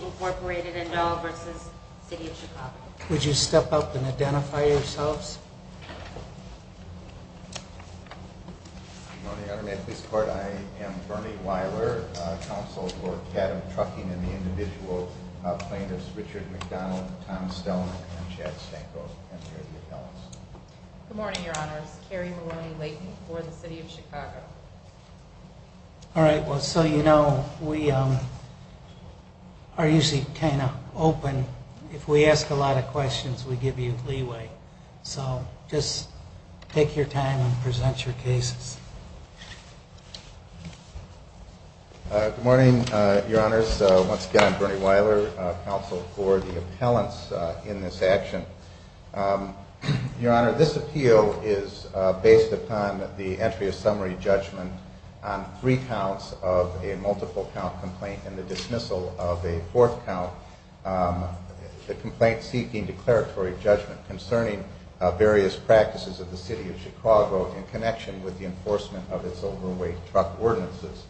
Incorporated, Indel, v. City of Chicago Would you step up and identify yourselves? Good morning, Your Honor. At this court, I am Fermi Weiler, Counsel for Cadillac Trucking and the individual plaintiffs, Richard McDonald, Tom Stelman, and Chad Stanko. Thank you for your attendance. Good morning, Your Honor. All right, well, so you know, we are usually kind of open. If we ask a lot of questions, we give you leeway. So just take your time and present your case. Good morning, Your Honor. Once again, I'm Fermi Weiler, Counsel for the appellants in this action. Your Honor, this appeal is based upon the entry of summary judgment on three counts of a multiple count complaint and the dismissal of a fourth count, the complaint seeking declaratory judgment concerning various practices of the City of Chicago in connection with the enforcement of its overweight truck ordinances.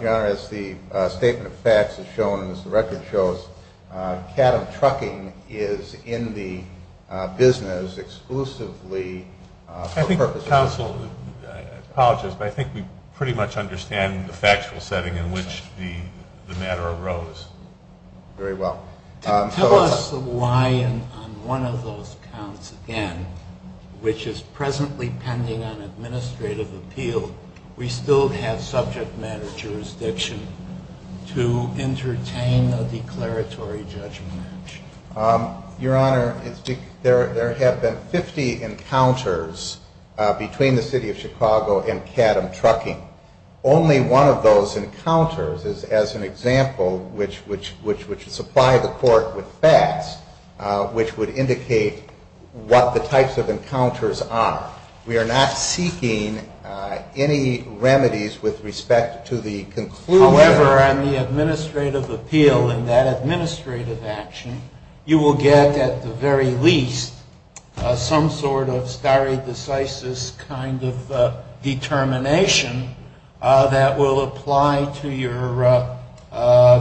Your Honor, as the statement of facts has shown and as the record shows, Cadillac Trucking is in the business exclusively for the purpose of... I think the counsel would... I apologize, but I think we pretty much understand the factual setting in which the matter arose. Very well. Tell us why on one of those counts again, which is presently pending on administrative appeal, we still have subject matter jurisdiction to entertain a declaratory judgment. Your Honor, there have been 50 encounters between the City of Chicago and Cadham Trucking. Only one of those encounters, as an example, which would supply the court with facts, which would indicate what the types of encounters are. We are not seeking any remedies with respect to the conclusion... However, on the administrative appeal in that administrative action, you will get at the very least some sort of stare decisis kind of determination that will apply to your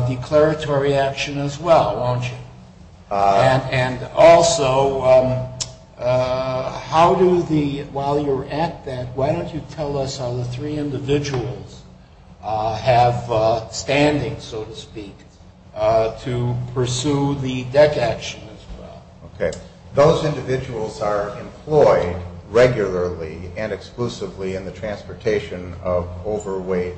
declaratory action as well, won't you? And also, while you're at that, why don't you tell us how the three individuals have standing, so to speak, to pursue the debt action as well. Okay. Those individuals are employed regularly and exclusively in the transportation of overweight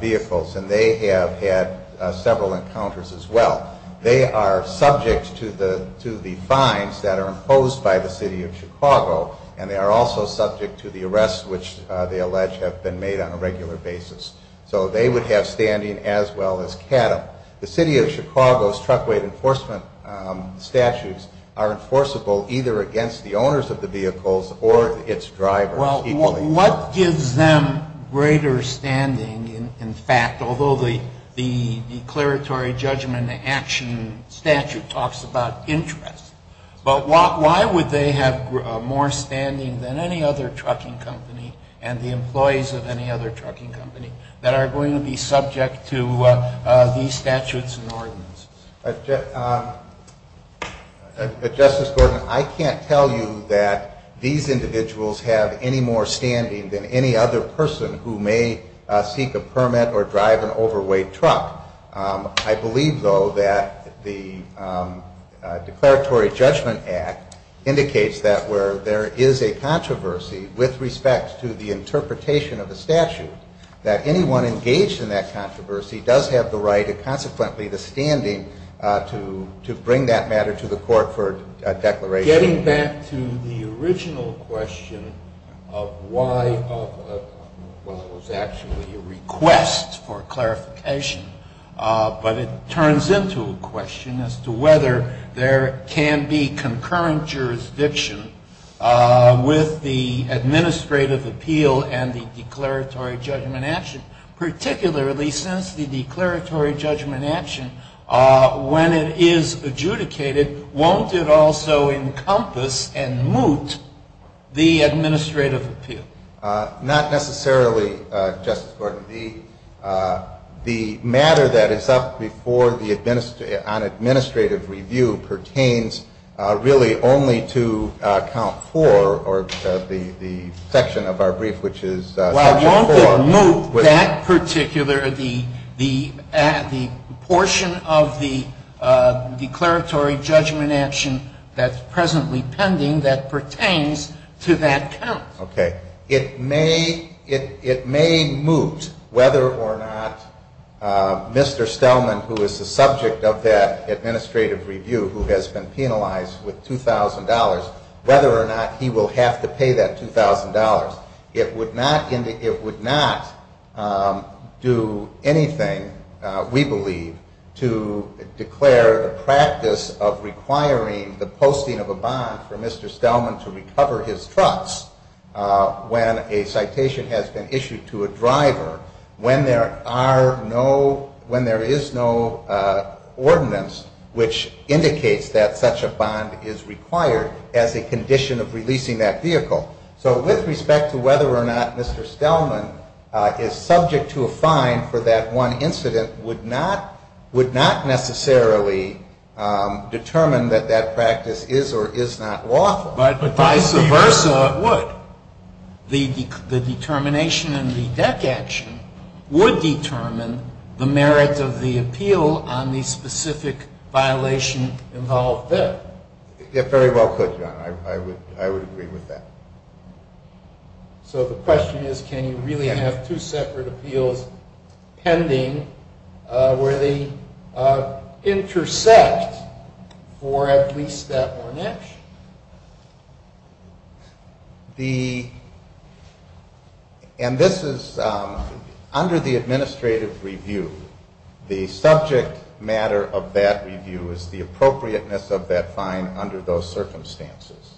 vehicles, and they have had several encounters as well. They are subject to the fines that are imposed by the City of Chicago, and they are also subject to the arrests which they allege have been made on a regular basis. So they would have standing as well as Cadham. The City of Chicago's truckweight enforcement statutes are enforceable either against the owners of the vehicles or its drivers. What gives them greater standing, in fact, although the declaratory judgment action statute talks about interest, but why would they have more standing than any other trucking company and the employees of any other trucking company that are going to be subject to these statutes and ordinance? Justice Gordon, I can't tell you that these individuals have any more standing than any other person who may seek a permit or drive an overweight truck. I believe, though, that the declaratory judgment act indicates that where there is a controversy with respect to the interpretation of the statute, that anyone engaged in that controversy does have the right and consequently the standing to bring that matter to the court for declaration. Getting back to the original question of why it was actually a request for clarification, but it turns into a question as to whether there can be concurrent jurisdiction with the administrative appeal and the declaratory judgment action, particularly since the declaratory judgment action, when it is adjudicated, won't it also encompass and moot the administrative appeal? Not necessarily, Justice Gordon. The matter that is up before the administrative review pertains really only to count four, or the section of our brief, which is count four. Well, I want to moot that particular, the portion of the declaratory judgment action that's presently pending that pertains to that count. Okay. It may moot, whether or not Mr. Stellman, who is the subject of that administrative review who has been penalized with $2,000, whether or not he will have to pay that $2,000. It would not do anything, we believe, to declare the practice of requiring the posting of a bond for Mr. Stellman to recover his trust when a citation has been issued to a driver when there is no ordinance which indicates that such a bond is required as a condition of releasing that vehicle. So with respect to whether or not Mr. Stellman is subject to a fine for that one incident would not necessarily determine that that practice is or is not lawful. But vice versa, it would. The determination in the deck action would determine the merit of the appeal on the specific violation involved there. Very well put, John. I would agree with that. So the question is can you really have two separate appeals pending where they intersect for at least that one action? And this is under the administrative review. The subject matter of that review is the appropriateness of that fine under those circumstances.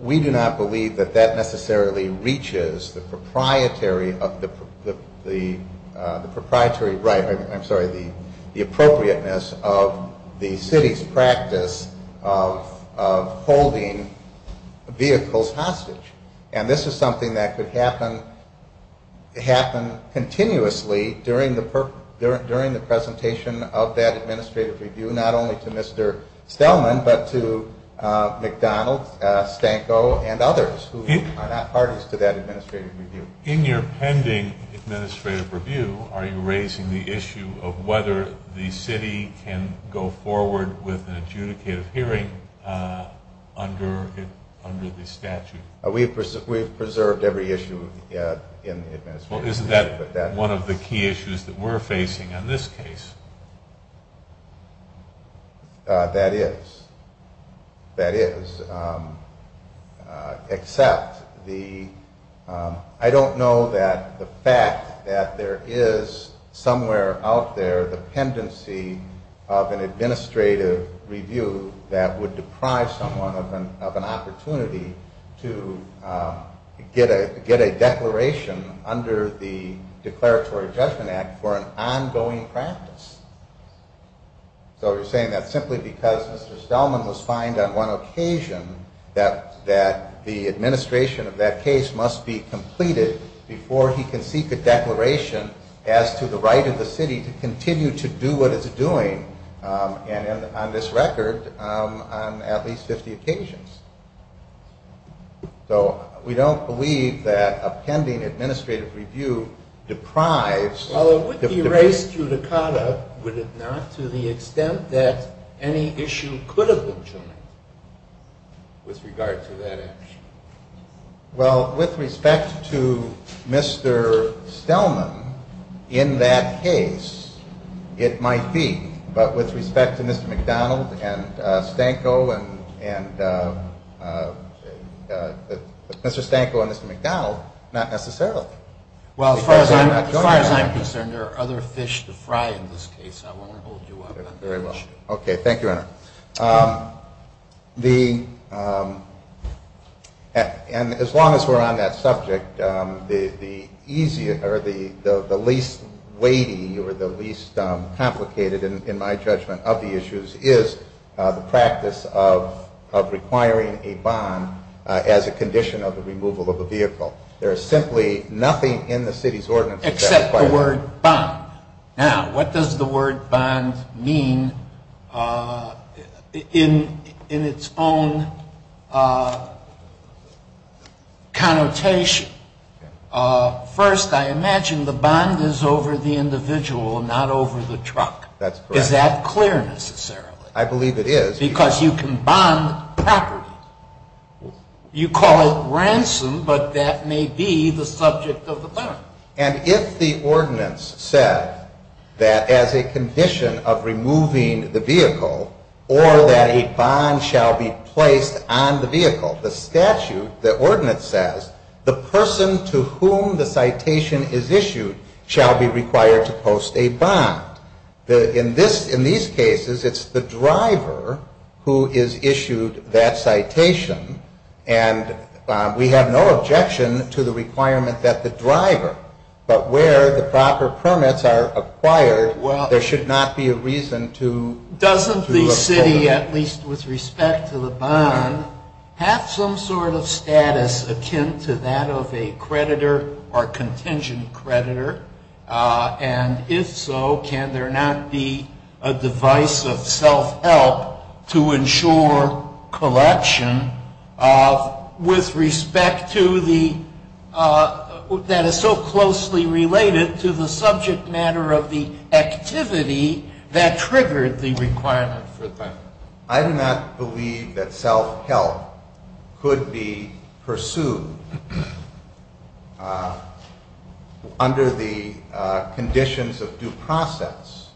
We do not believe that that necessarily reaches the proprietary right, I'm sorry, the appropriateness of the city's practice of holding vehicles hostage. And this is something that could happen continuously during the presentation of that administrative review, not only to Mr. Stellman but to McDonald, Stanko, and others who are not partners to that administrative review. In your pending administrative review, are you raising the issue of whether the city can go forward with an adjudicative hearing under the statute? We've preserved every issue in the administrative review. Well, isn't that one of the key issues that we're facing in this case? That is. That is. Except I don't know that the fact that there is somewhere out there a dependency of an administrative review that would deprive someone of an opportunity to get a declaration under the Declaratory Judgment Act for an ongoing practice. So you're saying that simply because Mr. Stellman was fined on one occasion that the administration of that case must be completed before he can seek a declaration as to the right of the city to continue to do what it's doing, and on this record, on at least 50 occasions. So we don't believe that a pending administrative review deprives- Well, it would be raised to the cause, would it not, to the extent that any issue could have been changed with regard to that action. Well, with respect to Mr. Stellman, in that case, it might be. But with respect to Mr. McDonald and Stanko and- Mr. Stanko and Mr. McDonald, not necessarily. Well, as far as I'm concerned, there are other fish to fry in this case. I won't hold you to other fish. Thank you very much. Okay, thank you, Henry. And as long as we're on that subject, the least weighty or the least complicated, in my judgment, of the issues is the practice of requiring a bond as a condition of the removal of a vehicle. There is simply nothing in the city's ordinance- Except the word bond. Now, what does the word bond mean in its own connotation? First, I imagine the bond is over the individual and not over the truck. Is that clear, necessarily? I believe it is. Because you can bond property. You call it ransom, but that may be the subject of the bond. And if the ordinance says that as a condition of removing the vehicle or that a bond shall be placed on the vehicle, the statute, the ordinance says, the person to whom the citation is issued shall be required to post a bond. In these cases, it's the driver who is issued that citation, and we have no objection to the requirement that the driver, but where the proper permits are acquired, there should not be a reason to- Doesn't the city, at least with respect to the bond, have some sort of status akin to that of a creditor or contingent creditor? And if so, can there not be a device of self-help to ensure collection with respect to the- that is so closely related to the subject matter of the activity that triggered the requirement? I do not believe that self-help could be pursued under the conditions of due process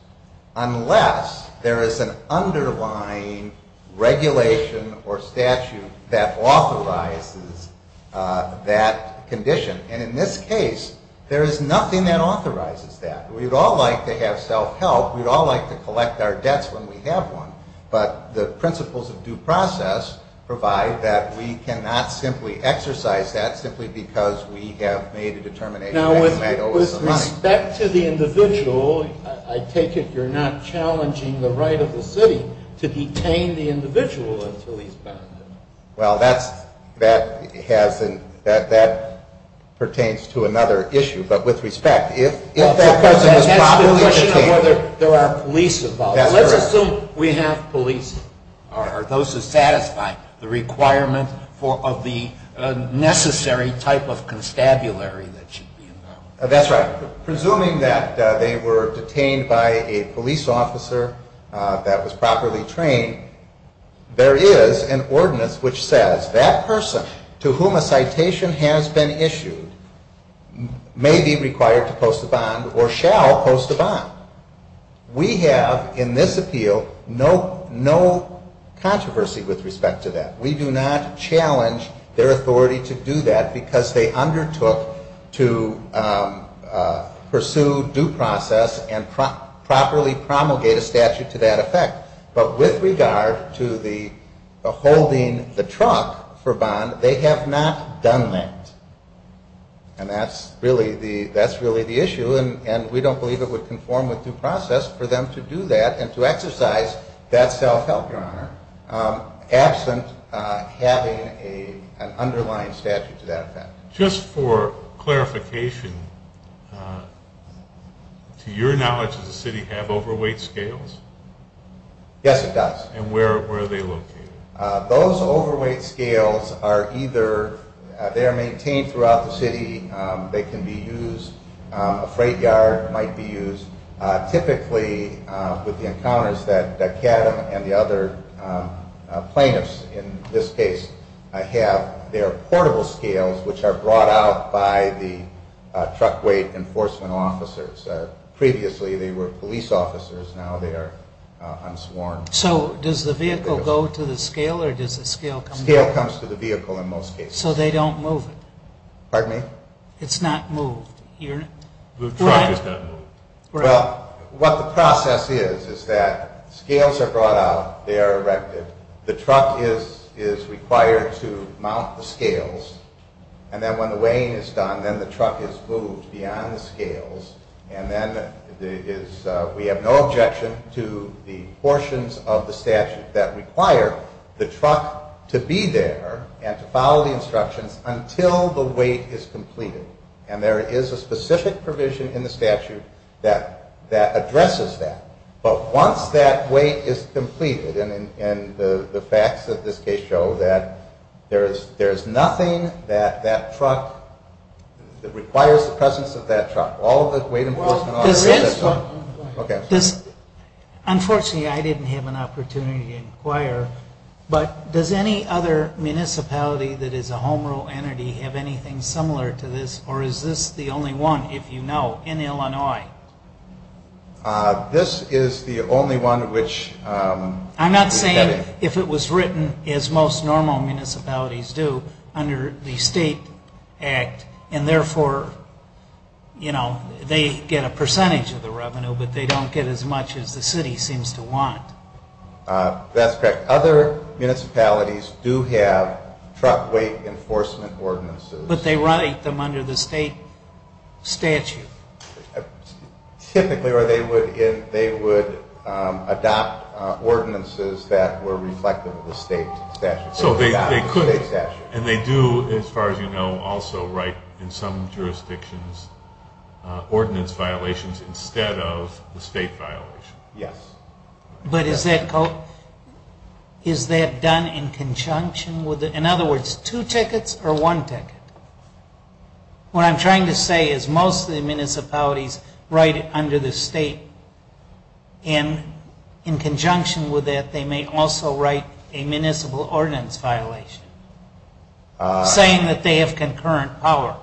unless there is an underlying regulation or statute that authorizes that condition. And in this case, there is nothing that authorizes that. We'd all like to have self-help. We'd all like to collect our debts when we have one, but the principles of due process provide that we cannot simply exercise that simply because we have made a determination- Now, with respect to the individual, I take it you're not challenging the right of the city to detain the individual until he's found? Well, that pertains to another issue, but with respect, if there are police involved, let's assume we have police. Are those to satisfy the requirement of the necessary type of constabulary that should be involved? That's right. Presuming that they were detained by a police officer that was properly trained, there is an ordinance which says that person to whom a citation has been issued may be required to post a bond or shall post a bond. We have, in this appeal, no controversy with respect to that. We do not challenge their authority to do that because they undertook to pursue due process and properly promulgate a statute to that effect. But with regard to the holding the trunk for bond, they have not done that. And that's really the issue, and we don't believe it would conform with due process for them to do that and to exercise that self-help, Your Honor, absent having an underlying statute to that effect. Just for clarification, to your knowledge, does the city have overweight scales? Yes, it does. And where are they located? Those overweight scales are either maintained throughout the city. They can be used. A freight yard might be used. Typically, with the encounters that Kevin and the other plaintiffs in this case have, they are portable scales which are brought out by the truck weight enforcement officers. Previously, they were police officers. Now they are unsworn. So does the vehicle go to the scale or does the scale come to the vehicle? The scale comes to the vehicle in most cases. So they don't move it? Pardon me? It's not moved? The truck is not moved. Well, what the process is is that scales are brought out. They are erected. The truck is required to mount the scales. And then when the weighing is done, then the truck is moved beyond the scales. And then we have no objection to the portions of the statute that require the truck to be there and to follow the instructions until the weight is completed. And there is a specific provision in the statute that addresses that. But once that weight is completed, and the facts of this case show that there is nothing that that truck, that requires the presence of that truck. All of the weight enforcement officers... Unfortunately, I didn't have an opportunity to inquire, but does any other municipality that is a home rule entity have anything similar to this? Or is this the only one, if you know, in Illinois? This is the only one which... I'm not saying if it was written as most normal municipalities do under the state act, and therefore, you know, they get a percentage of the revenue, but they don't get as much as the city seems to want. That's correct. Other municipalities do have truck weight enforcement ordinances. But they write them under the state statute. Typically, they would adopt ordinances that were reflective of the state statute. So they could, and they do, as far as you know, also write in some jurisdictions, ordinance violations instead of the state violation. Yes. But is that done in conjunction with... In other words, two tickets or one ticket? What I'm trying to say is most of the municipalities write it under the state, and in conjunction with that, they may also write a municipal ordinance violation, saying that they have concurrent power.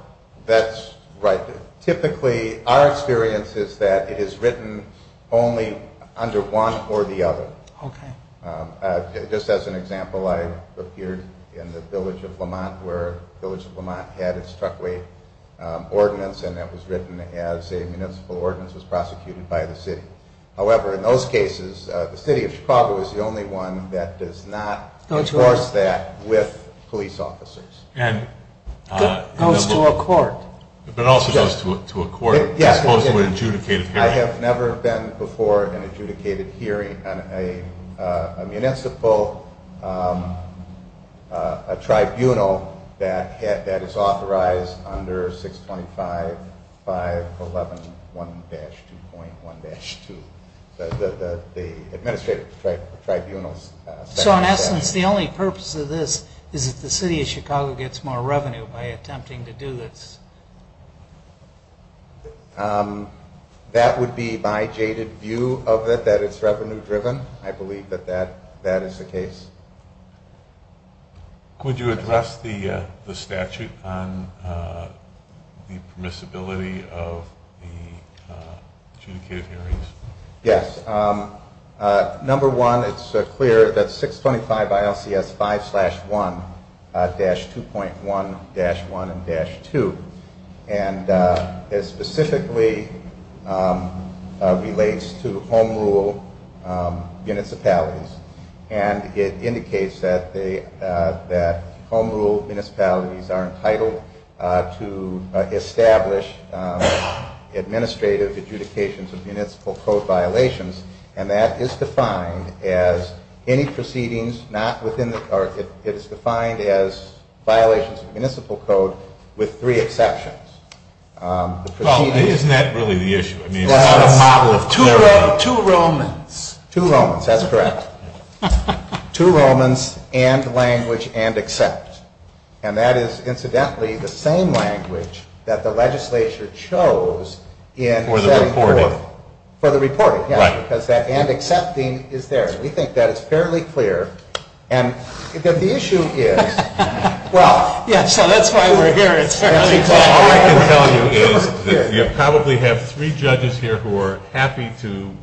That's right. Typically, our experience is that it is written only under one or the other. Okay. Just as an example, I appeared in the village of Lamont, where the village of Lamont had its truck weight ordinance, and that was written as a municipal ordinance was prosecuted by the city. However, in most cases, the city of Chicago is the only one that does not force that with police officers. And it goes to a court. It also goes to a court. Yes. It goes to an adjudicated hearing. I have never been before at an adjudicated hearing on a municipal tribunal that is authorized under 625.511.1-2.1-2. The administrative tribunal. So I'm asking if the only purpose of this is if the city of Chicago gets more revenue by attempting to do this. That would be my jaded view of it, that it's revenue-driven. I believe that that is the case. Could you address the statute on the permissibility of the adjudicated hearings? Yes. Number one, it's clear that 625 ILCS 5-1-2.1-1-2. And it specifically relates to home rule municipalities. And it indicates that home rule municipalities are entitled to establish administrative adjudications of municipal code violations. And that is defined as any proceedings not within the park. It's defined as violations of municipal code with three exceptions. Well, isn't that really the issue? Two Romans. Two Romans, that's correct. Two Romans and language and except. And that is, incidentally, the same language that the legislature chose. For the reporting. For the reporting, yes, because that and accepting is there. We think that is fairly clear. And the issue is, well, yes, that's why we're here. I can tell you, you probably have three judges here who are happy to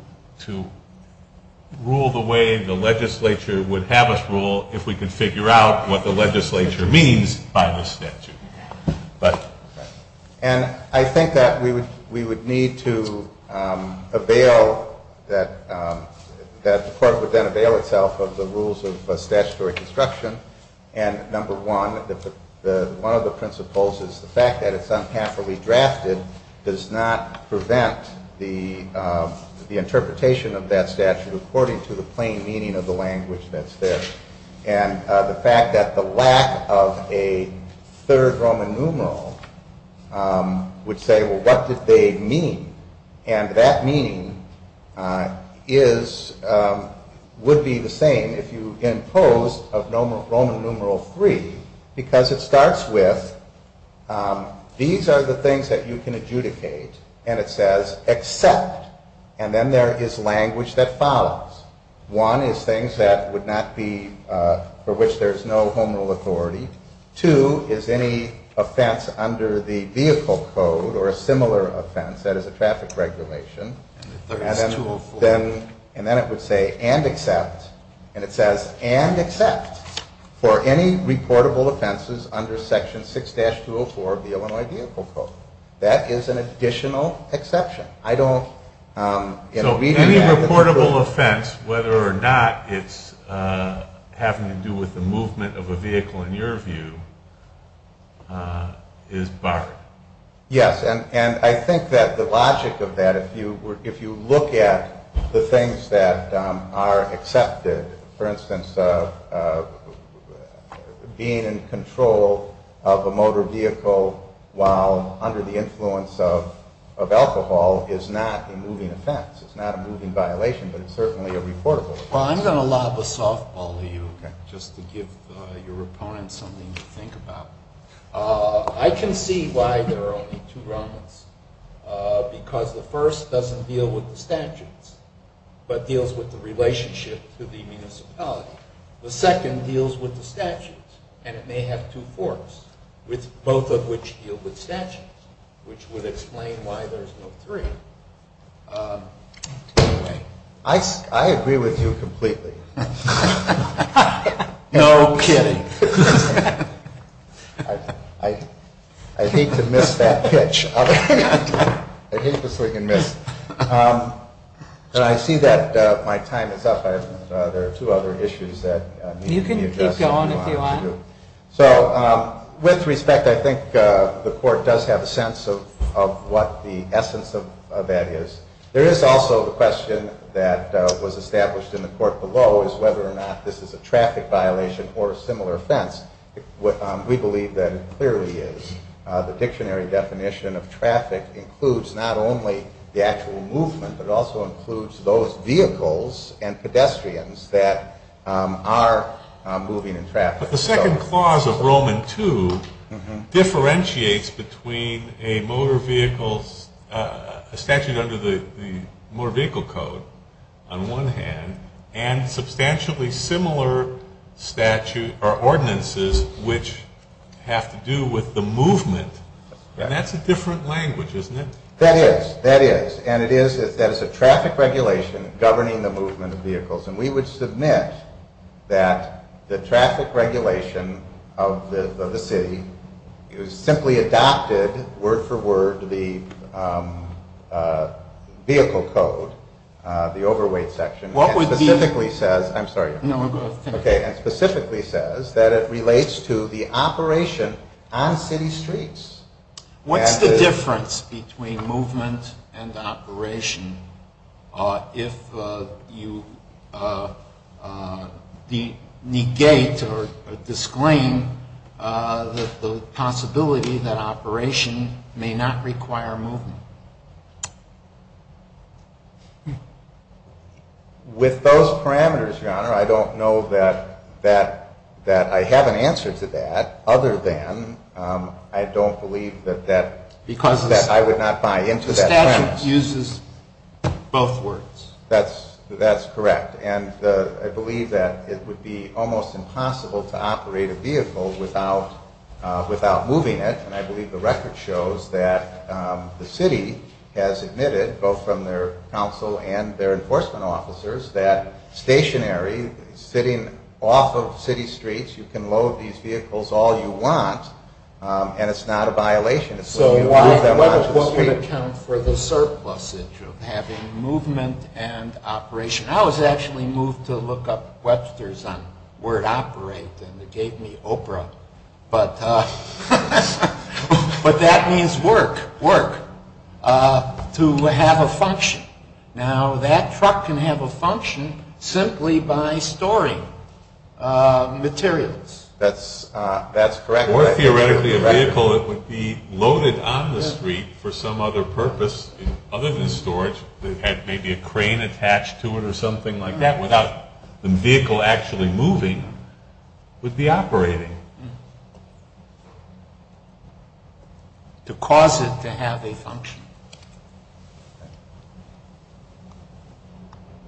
rule the way the legislature would have us rule if we could figure out what the legislature means by this statute. And I think that we would need to avail that the court would then avail itself of the rules of statutory construction. And number one, one of the principles is the fact that it's unhappily drafted does not prevent the interpretation of that statute according to the plain meaning of the language that's there. And the fact that the lack of a third Roman numeral would say, well, what did they mean? And that mean would be the same if you impose a Roman numeral three, because it starts with, these are the things that you can adjudicate. And it says except. And then there is language that follows. One is things that would not be, for which there's no homonal authority. Two is any offense under the vehicle code or a similar offense that is a traffic regulation. And then it would say and except. And it says and except for any reportable offenses under Section 6-204 of the Illinois Vehicle Code. That is an additional exception. So any reportable offense, whether or not it's having to do with the movement of a vehicle in your view, is barred. Yes, and I think that the logic of that, if you look at the things that are accepted, for instance, being in control of a motor vehicle while under the influence of alcohol is not a moving offense. It's not a moving violation, but it's certainly a reportable offense. Well, I'm going to allow the softball to you, just to give your opponent something to think about. I can see why there are only two Romans, because the first doesn't deal with the statutes, but deals with the relationship to the municipality. The second deals with the statutes, and it may have two courts, both of which deal with statutes, which would explain why there's no three. I agree with you completely. No kidding. I hate to miss that pitch. I hate to friggin' miss it. I see that my time is up. There are two other issues that need to be addressed. You can keep going if you want. With respect, I think the court does have a sense of what the essence of that is. There is also the question that was established in the court below, whether or not this is a traffic violation or a similar offense. We believe that it clearly is. The dictionary definition of traffic includes not only the actual movement, but it also includes those vehicles and pedestrians that are moving in traffic. The second clause of Roman II differentiates between a statute under the Motor Vehicle Code, on one hand, and substantially similar statutes or ordinances which have to do with the movement. That's a different language, isn't it? That is. That is. And it is that there's a traffic regulation governing the movement of vehicles. And we would submit that the traffic regulation of the city is simply adopted, word for word, the vehicle code, the overweight section. What would the... And specifically says... I'm sorry. No, go ahead. Okay. And specifically says that it relates to the operation on city streets. What's the difference between movement and operation if you negate or disclaim the possibility that operation may not require movement? With those parameters, Your Honor, I don't know that I have an answer to that, other than I don't believe that that... Because the statute uses both words. That's correct. And I believe that it would be almost impossible to operate a vehicle without moving it. And I believe the record shows that the city has admitted, both from their counsel and their enforcement officers, that stationary, sitting off of city streets, you can load these vehicles all you want, and it's not a violation. So what would account for the surplusage of having movement and operation? I was actually moved to look up Webster's word operate, and they gave me Oprah. But that means work, work, to have a function. Now, that truck can have a function simply by storing materials. That's correct. More theoretically, a vehicle that would be loaded on the street for some other purpose, other than storage, maybe a crane attached to it or something like that, without the vehicle actually moving, would be operating. To cause it to have a function.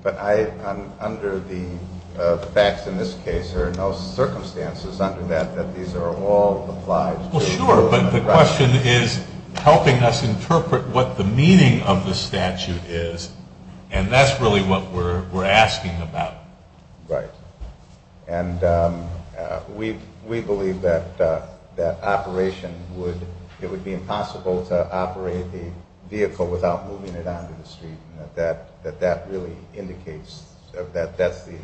But under the facts in this case, there are no circumstances under that that these are all applied to... Well, sure, but the question is helping us interpret what the meaning of the statute is, and that's really what we're asking about. Right. And we believe that it would be impossible to operate the vehicle without moving it onto the street, and that that really indicates that that's the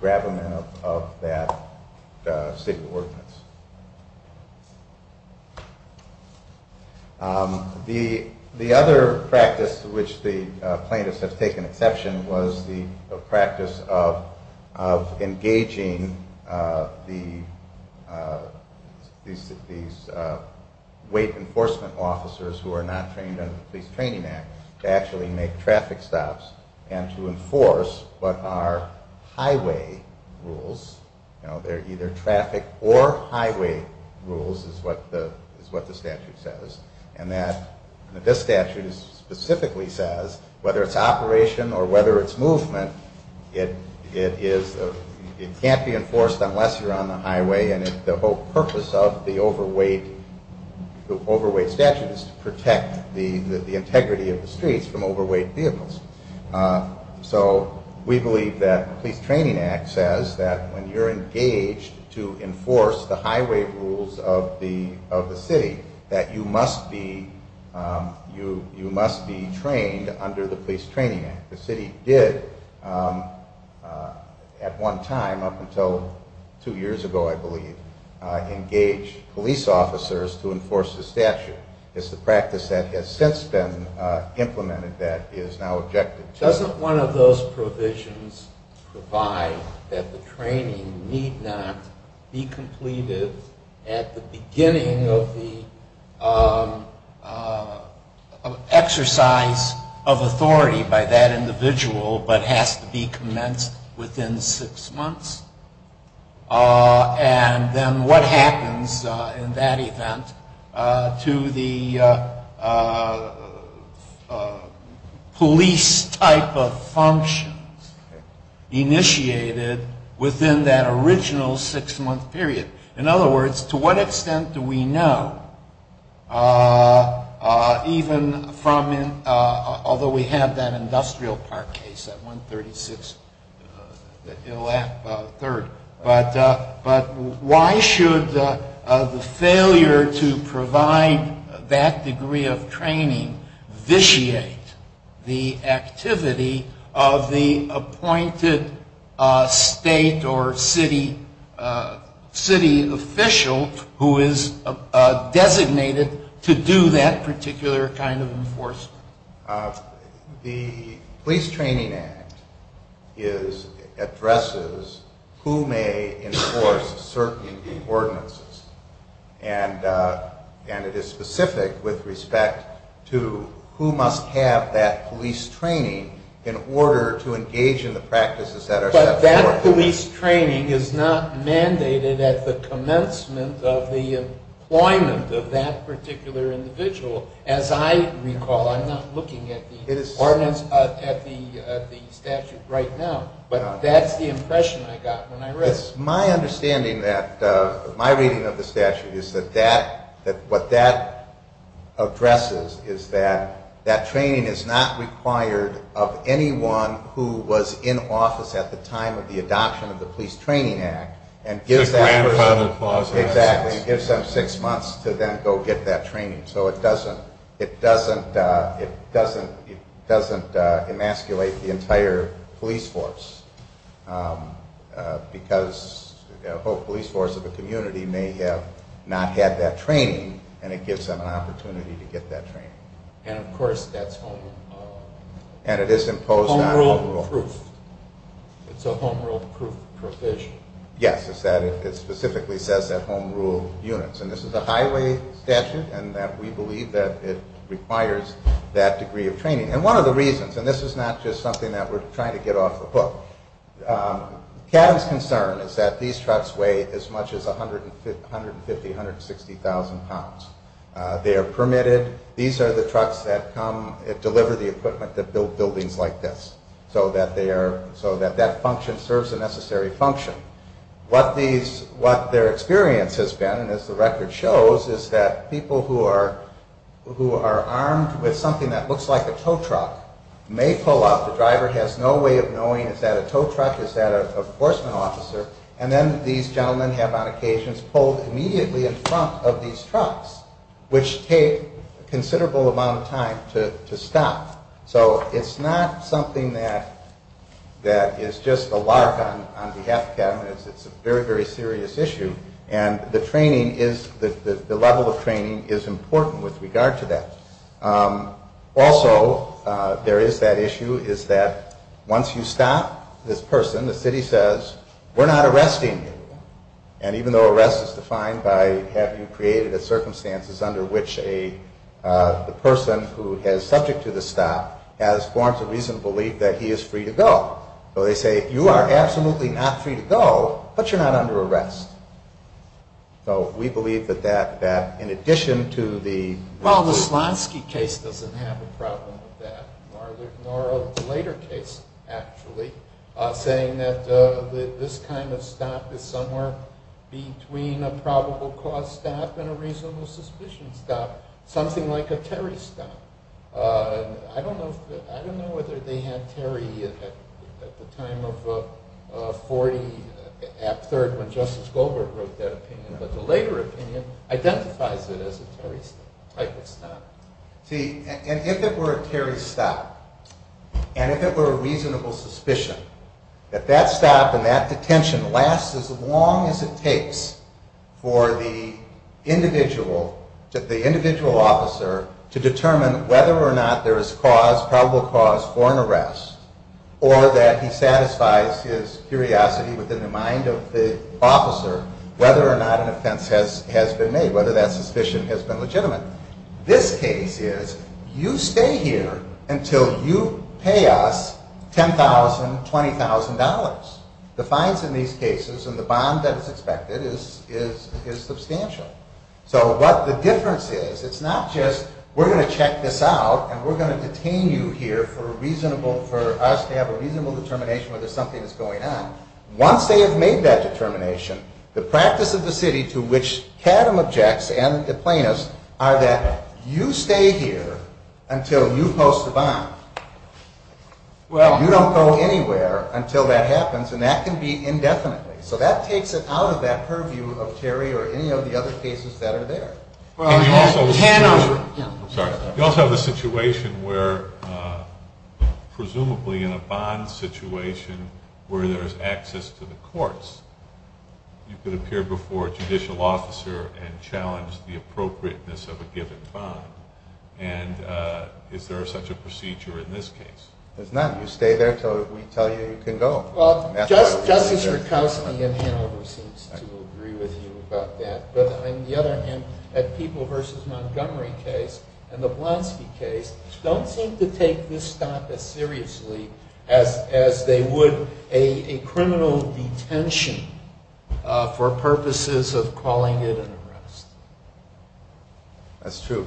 grappling of that city ordinance. The other practice to which the plaintiffs have taken exception was the practice of engaging these weight enforcement officers who are not trained under the Police Training Act to actually make traffic stops and to enforce what are highway rules. They're either traffic or highway rules, is what the statute says. And this statute specifically says, whether it's operation or whether it's movement, it can't be enforced unless you're on the highway, and the whole purpose of the overweight statute is to protect the integrity of the streets from overweight vehicles. So we believe that the Police Training Act says that when you're engaged to enforce the highway rules of the city, that you must be trained under the Police Training Act. The city did, at one time, up until two years ago, I believe, engage police officers to enforce the statute. It's a practice that has since been implemented that is now objective. Doesn't one of those provisions provide that the training need not be completed at the beginning of the exercise of authority by that individual but has to be commenced within six months? And then what happens in that event to the police type of functions initiated within that original six-month period? In other words, to what extent do we know, even from, although we have that industrial part case, that 136, the last third, but why should the failure to provide that degree of training vitiate the activity of the appointed state or city official who is designated to do that particular kind of enforcement? The Police Training Act addresses who may enforce certain ordinances, and it is specific with respect to who must have that police training in order to engage in the practices that are set forth. But that police training is not mandated at the commencement of the appointment of that particular individual. As I recall, I'm not looking at the ordinance at the statute right now, but that's the impression I got when I read it. My understanding, my reading of the statute, is that what that addresses is that that training is not required of anyone who was in office at the time of the adoption of the Police Training Act and gives them six months to then go get that training. So it doesn't emasculate the entire police force, because a whole police force of a community may have not had that training, and it gives them an opportunity to get that training. And, of course, that's home rule. And it is imposed on home rule. It's a home rule provision. Yes, it specifically says that home rule units. And this is a highway statute, and we believe that it requires that degree of training. And one of the reasons, and this is not just something that we're trying to get off the hook, CAB's concern is that these trucks weigh as much as 150,000, 160,000 pounds. They are permitted. These are the trucks that come and deliver the equipment that build buildings like this so that that function serves the necessary function. What their experience has been, as the record shows, is that people who are armed with something that looks like a tow truck may pull up. The driver has no way of knowing is that a tow truck, is that an enforcement officer. And then these gentlemen have, on occasion, pulled immediately in front of these trucks, which take a considerable amount of time to stop. So it's not something that is just a lark on behalf of the government. It's a very, very serious issue. And the level of training is important with regard to that. Also, there is that issue, is that once you stop, this person, the city says, we're not arresting you. And even though arrest is defined by having created a circumstance under which the person who is subject to the stop has forms of reason to believe that he is free to go. So they say, you are absolutely not free to go, but you're not under arrest. So we believe that that, in addition to the... Well, the Slonsky case doesn't have a problem with that. Nor does the later case, actually, saying that this kind of stop is somewhere between a probable cause stop and a reasonable suspicion stop. Something like a carry stop. I don't know whether they had carry at the time of 40, after Justice Goldberg wrote that opinion. But the later opinion identifies it as a carry stop. See, and if it were a carry stop, and if it were a reasonable suspicion, that that stop and that detention lasts as long as it takes for the individual, the individual officer, to determine whether or not there is cause, probable cause for an arrest, or that he satisfies his curiosity within the mind of the officer, whether or not an offense has been made, whether that suspicion has been legitimate. This case is, you stay here until you pay us $10,000, $20,000. The fines in these cases and the bond that's expected is substantial. So what the difference is, it's not just we're going to check this out and we're going to detain you here for us to have a reasonable determination whether something is going on. Once they have made that determination, the practice of the city to which Cadham objects, and the plaintiffs, are that you stay here until you post the bond. Well, you don't go anywhere until that happens, and that can be indefinitely. So that takes it out of that purview of Terry or any of the other cases that are there. You also have a situation where, presumably in a bond situation where there's access to the courts, you could appear before a judicial officer and challenge the appropriateness of a given bond. And is there such a procedure in this case? There's none. You stay there until we tell you you can go. Well, Judges are constantly in hand, and we seem to agree with you about that. But on the other hand, that People v. Montgomery case and the Blonsky case don't seem to take this topic seriously as they would a criminal detention for purposes of calling it an arrest. That's true.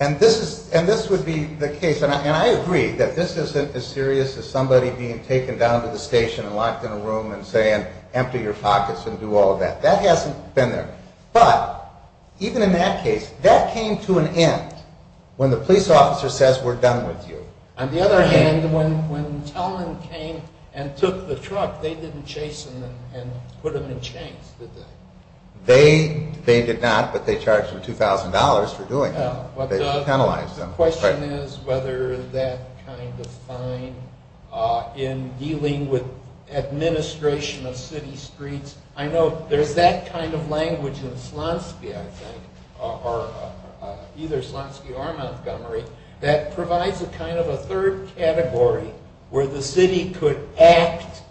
And this would be the case, and I agree, that this isn't as serious as somebody being taken down to the station and locked in a room and saying, empty your pockets and do all of that. That hasn't been there. But even in that case, that came to an end when the police officer says, we're done with you. On the other hand, when Teller came and took the truck, they didn't chase him and put him in chains, did they? They did not, but they charged him $2,000 for doing that. The question is whether that kind of time in dealing with administration of city streets, I know there's that kind of language in Slotsky, I think, or either Slotsky or Montgomery, that provides a kind of a third category where the city could act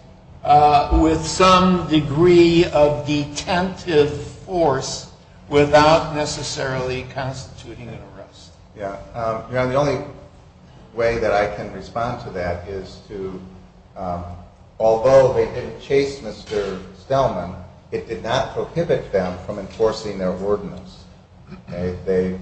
with some degree of detentive force without necessarily constituting an arrest. The only way that I can respond to that is to, although they didn't chase Mr. Stellman, it did not prohibit them from enforcing their ordinance. They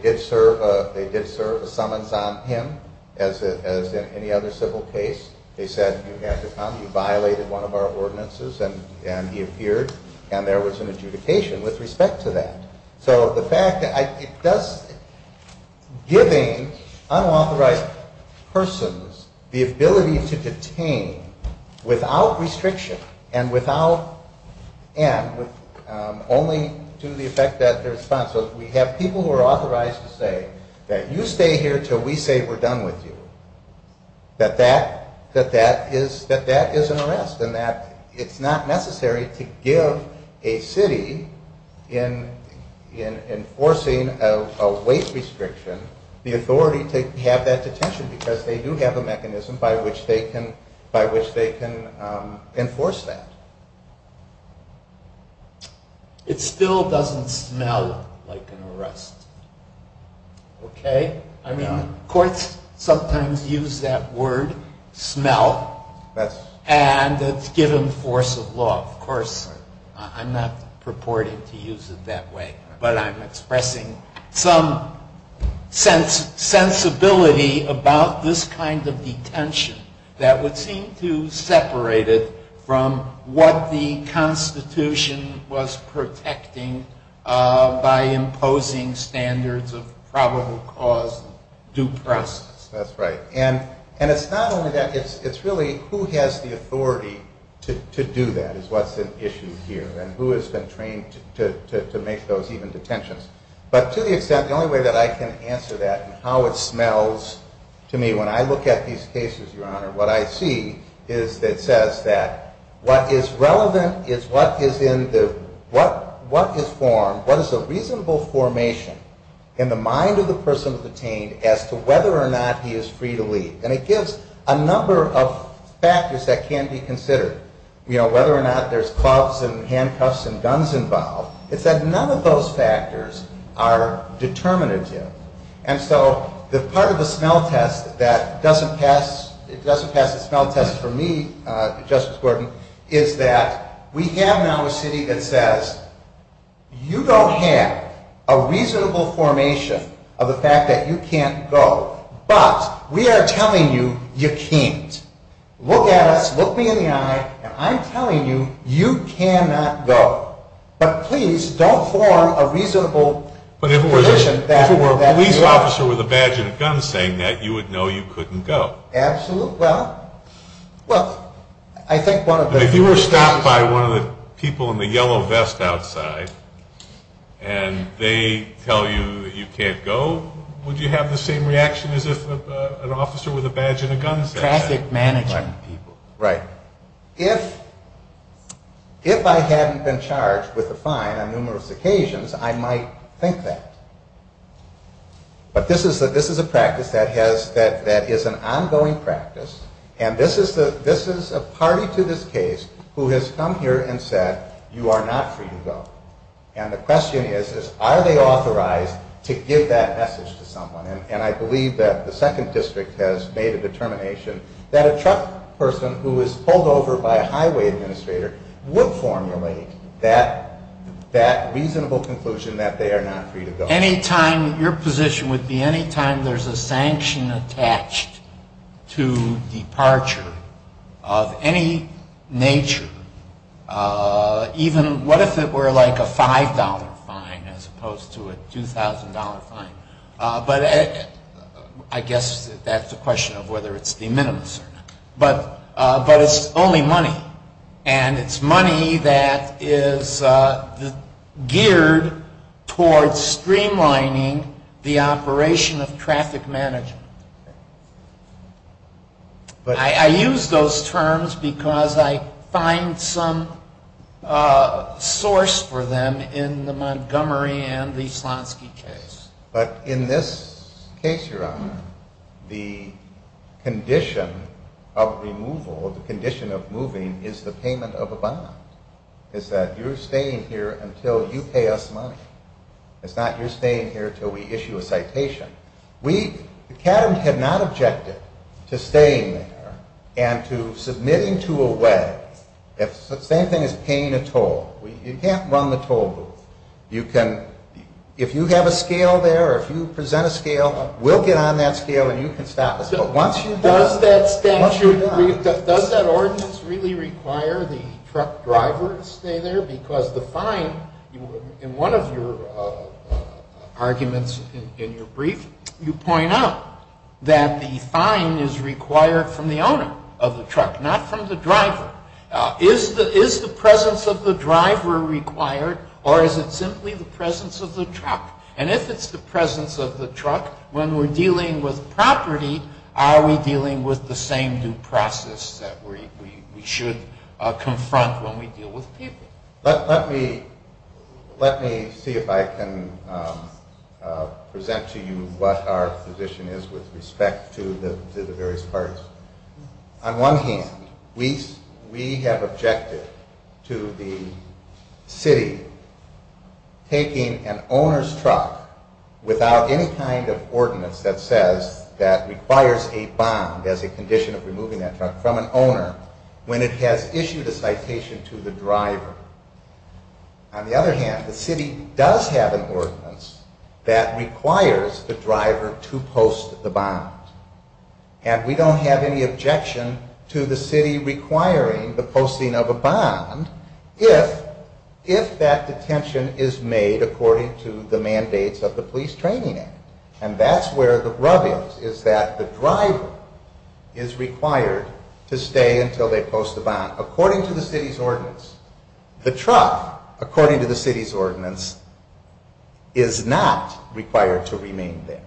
did serve a summons on him, as in any other civil case. They said, you had to come, you violated one of our ordinances, and he appeared, and there was an justification with respect to that. So the fact that it does, giving unauthorized persons the ability to detain without restriction and without, and only to the effect that they're responsible, we have people who are authorized to say that you stay here until we say we're done with you, that that is an arrest, and that it's not necessary to give a city, in enforcing a waste restriction, the authority to have that detention, because they do have a mechanism by which they can enforce that. It still doesn't smell like an arrest. Okay? Courts sometimes use that word, smell, and it's given force of law. Of course, I'm not purporting to use it that way, but I'm expressing some sensibility about this kind of detention that would seem to separate it from what the Constitution was protecting by imposing standards of probable cause due process. That's right. And it's not only that. It's really who has the authority to do that is what's at issue here, and who has been trained to make those even detentions. But to the extent, the only way that I can answer that and how it smells to me, when I look at these cases, Your Honor, what I see is that it says that what is relevant is what is in the, what is formed, what is a reasonable formation in the mind of the person detained as to whether or not he is free to leave. And it gives a number of factors that can be considered, whether or not there's clubs and handcuffs and guns involved. It says none of those factors are determinative. And so part of the smell test that doesn't pass the smell test for me, Justice Gordon, is that we have now a city that says, you don't have a reasonable formation of the fact that you can't go, but we are telling you you can't. Look at us, look me in the eye, and I'm telling you you cannot go. But please, don't form a reasonable position that you are ready to go. But if it was a police officer with a badge and a gun saying that, you would know you couldn't go. Absolutely. Look, I think one of the... If you were stopped by one of the people in the yellow vest outside, and they tell you that you can't go, would you have the same reaction as if an officer with a badge and a gun said that? Traffic management people. Right. If I hadn't been charged with a fine on numerous occasions, I might think that. But this is a practice that is an ongoing practice, and this is a party to this case who has come here and said, you are not free to go. And the question is, are they authorized to give that message to someone? And I believe that the 2nd District has made a determination that a truck person who is pulled over by a highway administrator would formulate that reasonable conclusion that they are not free to go. Any time, your position would be, any time there's a sanction attached to departure of any nature, even what if it were like a $5 fine as opposed to a $2,000 fine. But I guess that's a question of whether it's de minimis. But that is only money, and it's money that is geared towards streamlining the operation of traffic management. I use those terms because I find some source for them in the Montgomery and the Slonsky case. But in this case, Your Honor, the condition of removal, the condition of moving, is the payment of a bond. It's that you're staying here until you pay us money. It's not you're staying here until we issue a citation. The Academy had not objected to staying here and to submitting to a way that's the same thing as paying a toll. You can't run the toll booth. If you have a scale there or if you present a scale, we'll get on that scale and you can stop us. Does that ordinance really require the truck driver to stay there? Because the fine, in one of your arguments in your brief, you point out that the fine is required from the owner of the truck, not from the driver. Is the presence of the driver required, or is it simply the presence of the truck? And if it's the presence of the truck, when we're dealing with property, are we dealing with the same due process that we should confront when we deal with people? Let me see if I can present to you what our position is with respect to the various parts. On one hand, we have objected to the city taking an owner's truck without any kind of ordinance that says that requires a bond as a condition of removing that truck from an owner when it has issued a citation to the driver. On the other hand, the city does have an ordinance that requires the driver to post the bond. And we don't have any objection to the city requiring the posting of a bond if that detention is made according to the mandates of the Police Training Act. And that's where the rubbings is that the driver is required to stay until they post the bond. According to the city's ordinance, the truck, according to the city's ordinance, is not required to remain there.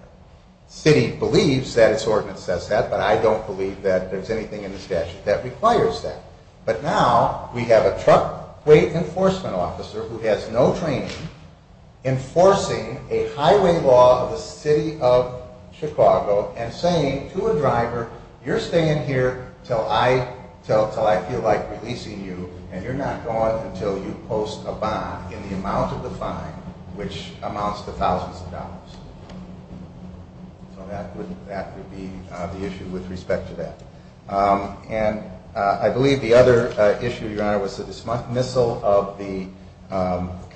The city believes that its ordinance says that, but I don't believe that there's anything in the statute that requires that. But now, we have a truck enforcement officer who has no training enforcing a highway law of the city of Chicago and saying to a driver, you're staying here until I feel like policing you, and you're not going until you post a bond in the amount of the time which amounts to thousands of dollars. So that would be the issue with respect to that. And I believe the other issue, Your Honor, was the dismissal of the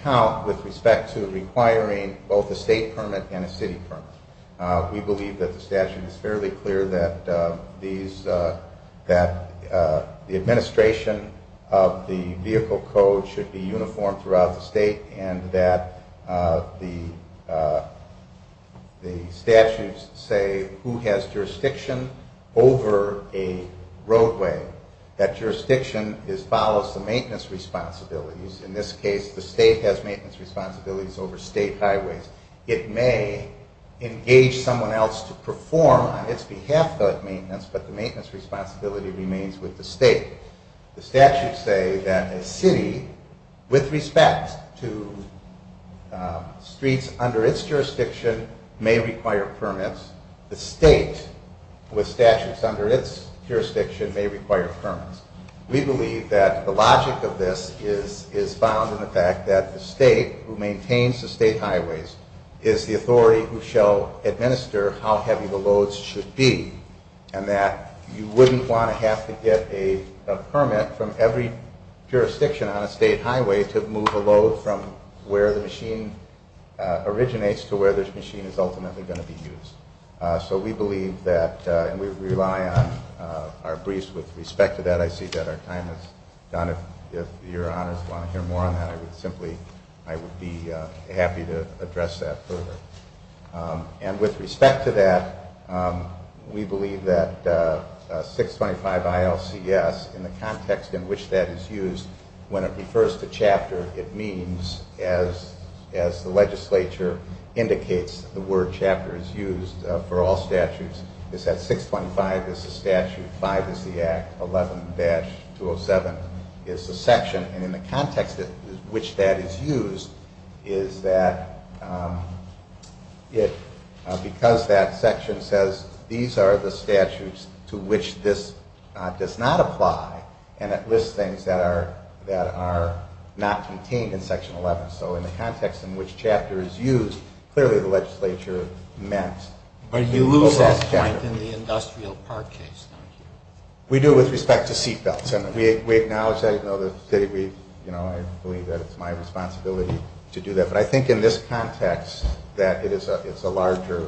count with respect to requiring both a state permit and a city permit. We believe that the statute is fairly clear that the administration of the vehicle code should be uniform throughout the state and that the statutes say who has jurisdiction over a roadway. That jurisdiction follows the maintenance responsibilities. In this case, the state has maintenance responsibilities over state highways. It may engage someone else to perform on its behalf that maintenance, but the maintenance responsibility remains with the state. The statutes say that a city, with respect to streets under its jurisdiction, may require permits. The state, with statutes under its jurisdiction, may require permits. We believe that the logic of this is found in the fact that the state who maintains the state highways is the authority who shall administer how heavy the loads should be and that you wouldn't want to have to get a permit from every jurisdiction on a state highway to move a load from where the machine originates to where this machine is ultimately going to be used. So we believe that, and we rely on our briefs with respect to that. I see that our time is done. If Your Honor wanted to hear more on that, I would simply be happy to address that further. With respect to that, we believe that 625 ILCS, in the context in which that is used, when it refers to chapter, it means, as the legislature indicates, the word chapter is used for all statutes. It says 625 is the statute, 5 is the Act, 11-207 is the section. And in the context in which that is used is that because that section says these are the statutes to which this does not apply, and it lists things that are not contained in Section 11. So in the context in which chapter is used, clearly the legislature meant to use that chapter. But you do use that in the industrial park case. We do with respect to seat belts. We acknowledge that it's my responsibility to do that. But I think in this context that it's a larger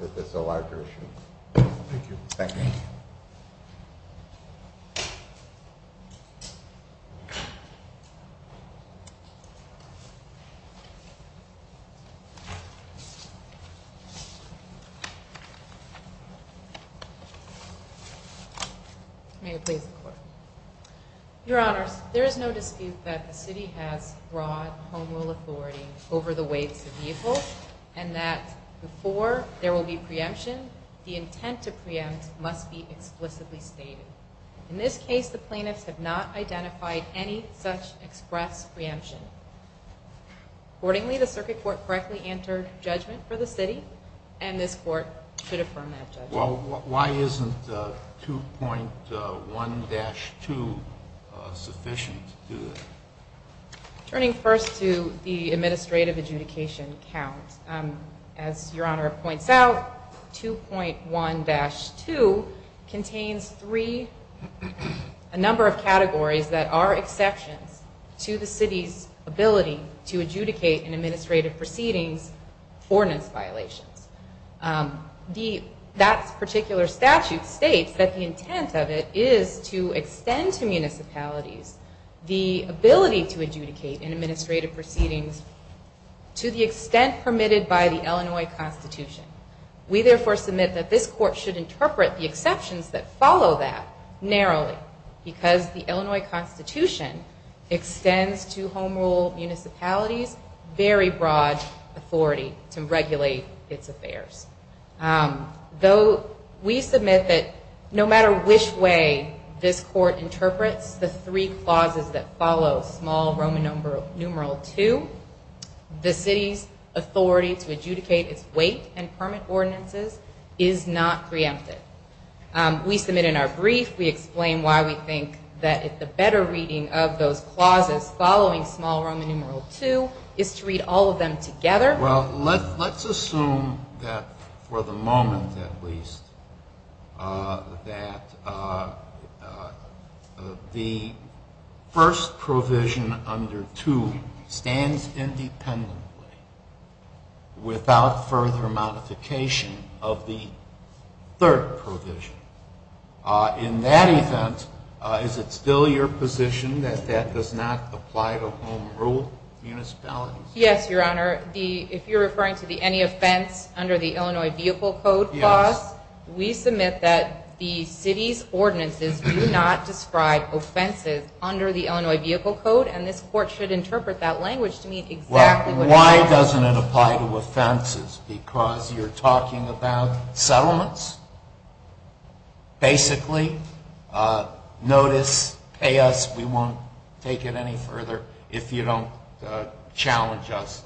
issue. Thank you. Thank you. Your Honor, there is no dispute that the city has broad home rule authority over the waste of vehicles, and that before there will be preemptions, the intent to preempt must be explicitly stated. In this case, the plaintiff did not identify any such express preemption. Accordingly, the circuit court correctly answered judgment for the city, and this court should affirm that judgment. Well, why isn't 2.1-2 sufficient? Turning first to the administrative adjudication count, as Your Honor points out, 2.1-2 contains three, a number of categories that are exceptions to the city's ability to adjudicate an administrative proceeding for an violation. That particular statute states that the intent of it is to extend to municipalities the ability to adjudicate an administrative proceeding to the extent permitted by the Illinois Constitution. We therefore submit that this court should interpret the exceptions that follow that narrowly, because the Illinois Constitution extends to home rule municipalities very broad authority to regulate its affairs. Though we submit that no matter which way this court interprets the three clauses that follow small Roman numeral 2, the city's authority to adjudicate its waste and permit ordinances is not preempted. We submit in our brief, we explain why we think that it's a better reading of those clauses following small Roman numeral 2, is to read all of them together. Well, let's assume that, for the moment at least, that the first provision under 2 stands independently without further modification of the third provision. In that event, is it still your position that that does not apply to home rule municipalities? Yes, Your Honor. If you're referring to the any offense under the Illinois Vehicle Code clause, we submit that the city's ordinances do not describe offenses under the Illinois Vehicle Code, and this court should interpret that language to mean exactly what it does. Well, why doesn't it apply to offenses? Because you're talking about settlements? Basically, notice, pay us, we won't take it any further if you don't challenge us,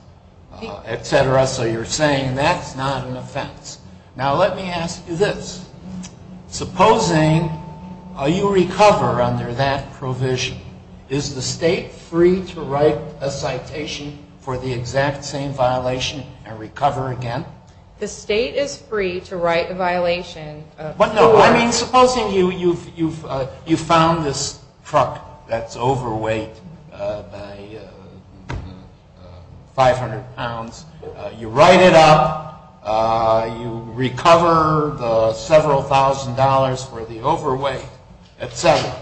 et cetera. So you're saying that's not an offense. Now let me ask you this. Supposing you recover under that provision, is the state free to write a citation for the exact same violation and recover again? The state is free to write a violation. I mean, supposing you found this truck that's overweight, 500 pounds, you write it up, you recover the several thousand dollars for the overweight, et cetera.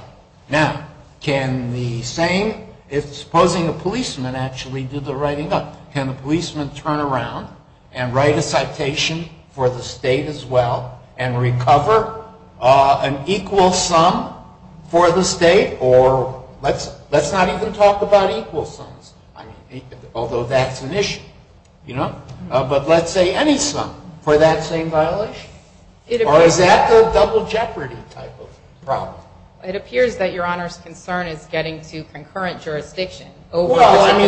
Now, can the same, supposing a policeman actually did the writing up, can the policeman turn around and write a citation for the state as well and recover an equal sum for the state, or let's not even talk about equal sums, although that's an issue, you know? But let's say any sum for that same violation. Or is that the double jeopardy type of problem? It appears that Your Honor's concern is getting to concurrent jurisdictions. Well, I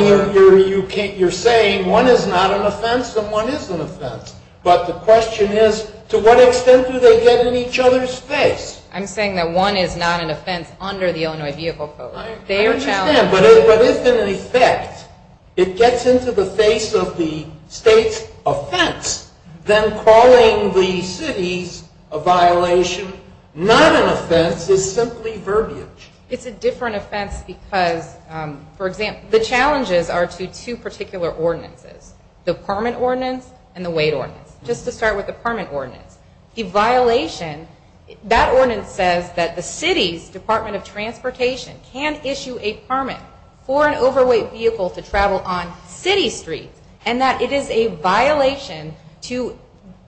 mean, you're saying one is not an offense and one is an offense. But the question is, to what extent do they get in each other's face? I'm saying that one is not an offense under the Illinois vehicle code. I understand, but if in effect it gets into the face of the state's offense, then calling the cities a violation, not an offense, is simply verbiage. It's a different offense because, for example, the challenges are to two particular ordinances, the permit ordinance and the wait ordinance. Just to start with the permit ordinance. The violation, that ordinance says that the city's Department of Transportation can issue a permit for an overweight vehicle to travel on city streets, and that it is a violation to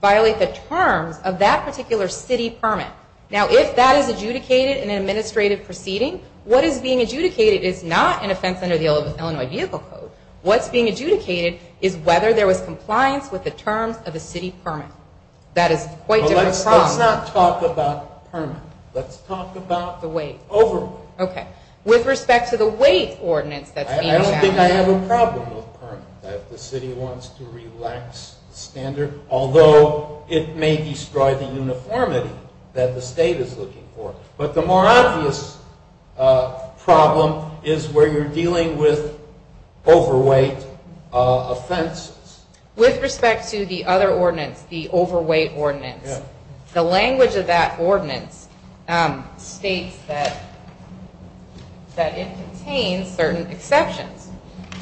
violate the term of that particular city permit. Now, if that is adjudicated in an administrative proceeding, what is being adjudicated is not an offense under the Illinois vehicle code. What's being adjudicated is whether there was compliance with the terms of a city permit. That is quite a different problem. Let's not talk about permits. Let's talk about overweight. Okay. With respect to the wait ordinance, that's a different matter. I don't think I have a problem with permits. The city wants to relax standards, although it may describe the uniformity that the state is looking for. But the more obvious problem is where you're dealing with overweight offenses. With respect to the other ordinance, the overweight ordinance, the language of that ordinance states that it contains certain exceptions,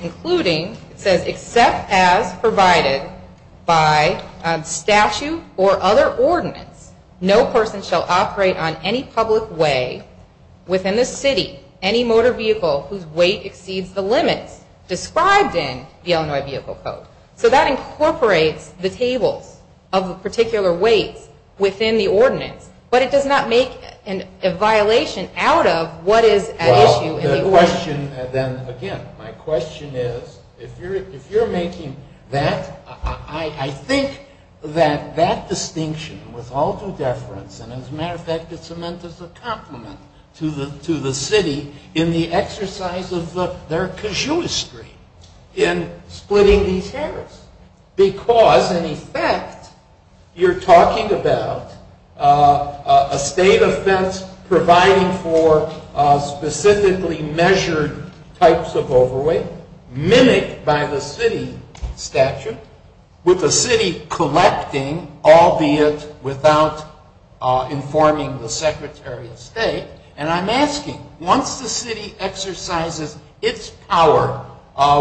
including it says, except as provided by statute or other ordinance, no person shall operate on any public way within the city any motor vehicle whose weight exceeds the limit described in the Illinois vehicle code. So that incorporates the table of a particular weight within the ordinance, but it does not make a violation out of what is at issue in the ordinance. My question then, again, my question is, if you're making that, I think that that distinction was also deference and, as a matter of fact, it's meant as a compliment to the city in the exercise of their cashewistry in splitting these permits. Because, in effect, you're talking about a state offense providing for specifically measured types of overweight, mimicked by the city statute, with the city collecting, albeit without informing the Secretary of State. And I'm asking, once the city exercises its power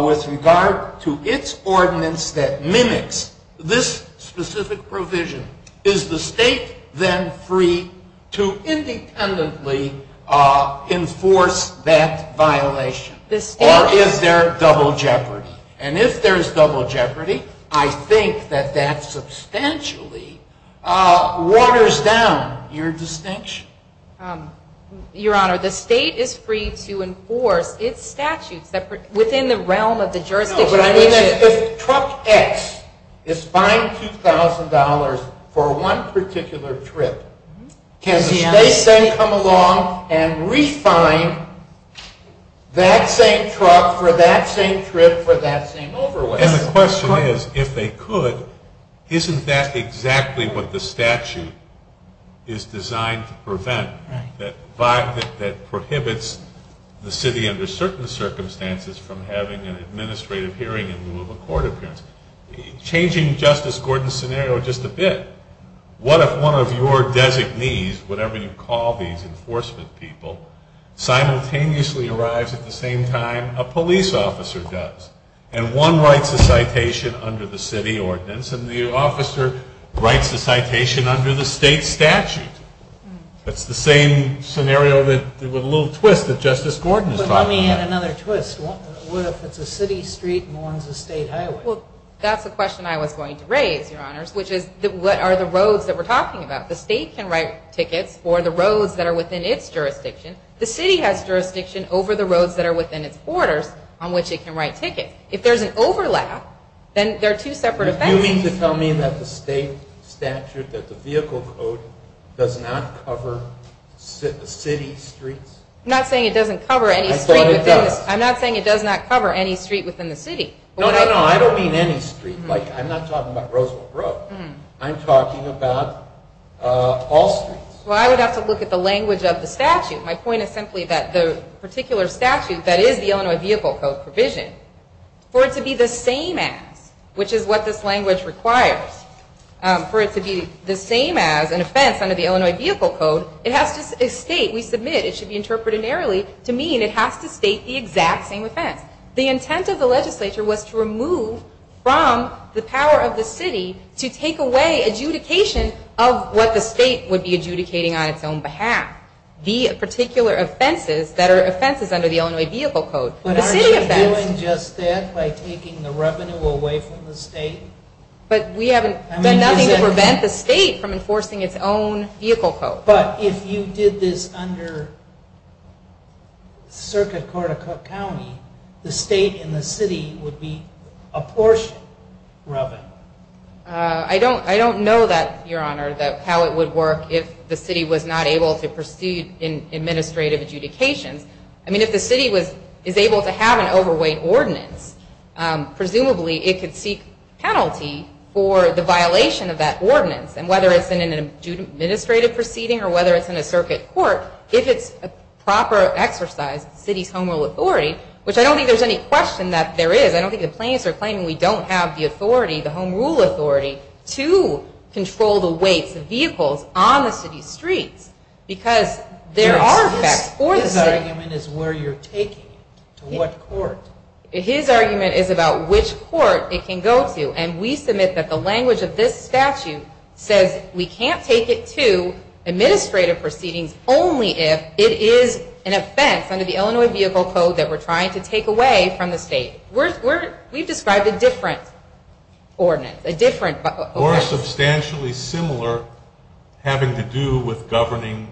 with regard to its ordinance that mimics this specific provision, is the state then free to independently enforce that violation, or is there double jeopardy? And if there's double jeopardy, I think that that substantially waters down your distinction. Your Honor, the state is free to enforce its statute within the realm of the jurisdiction. No, but I mean, if truck X is fined $2,000 for one particular trip, can the state then come along and re-fine that same truck for that same trip for that same overweight? And the question is, if they could, isn't that exactly what the statute is designed to prevent, that prohibits the city under certain circumstances from having an administrative hearing in the rule of a court appearance? Changing Justice Gordon's scenario just a bit, what if one of your designees, whatever you call these enforcement people, simultaneously arrives at the same time a police officer does? And one writes a citation under the city ordinance, and the officer writes the citation under the state statute. It's the same scenario with a little twist that Justice Gordon's talking about. Tell me another twist. What if the city street mourns the state highway? Well, that's the question I was going to raise, Your Honor, which is, what are the roads that we're talking about? The state can write tickets for the roads that are within its jurisdiction. The city has jurisdiction over the roads that are within its borders on which it can write tickets. If there's an overlap, then they're two separate offenses. You mean to tell me that the state statute, that the vehicle code, does not cover the city streets? I'm not saying it doesn't cover any streets. I'm not saying it does not cover any streets within the city. No, no, no, I don't mean any streets. I'm not talking about Roosevelt Road. I'm talking about all streets. Well, I would have to look at the language of the statute. My point is simply that the particular statute that is the Illinois Vehicle Code provision, for it to be the same as, which is what this language requires, for it to be the same as, in effect, under the Illinois Vehicle Code, it has to state, we submit, it should be interpreted narrowly, to mean it has to state the exact same offense. The intent of the legislature was to remove from the power of the city to take away adjudication of what the state would be adjudicating on its own behalf. The particular offenses that are offenses under the Illinois Vehicle Code. But are we doing just that by taking the revenue away from the state? But we haven't done nothing to prevent the state from enforcing its own vehicle code. But if you did this under Circuit Court of County, the state and the city would be apportioned. I don't know that, Your Honor, how it would work if the city was not able to proceed in administrative adjudication. I mean, if the city is able to have an overweight ordinance, presumably, it could seek penalty for the violation of that ordinance. And whether it's in an administrative proceeding or whether it's in a circuit court, if it's a proper exercise of the city's home rule authority, which I don't think there's any question that there is. I don't think the plaintiffs are claiming we don't have the authority, the home rule authority, to control the weight of vehicles on the city streets. Because there are effects for the city. His argument is where you're taking it. To what court? His argument is about which court it can go to. And we submit that the language of this statute says we can't take it to administrative proceedings only if it is an offense under the Illinois Vehicle Code that we're trying to take away from the state. We've described a different ordinance. Or a substantially similar having to do with governing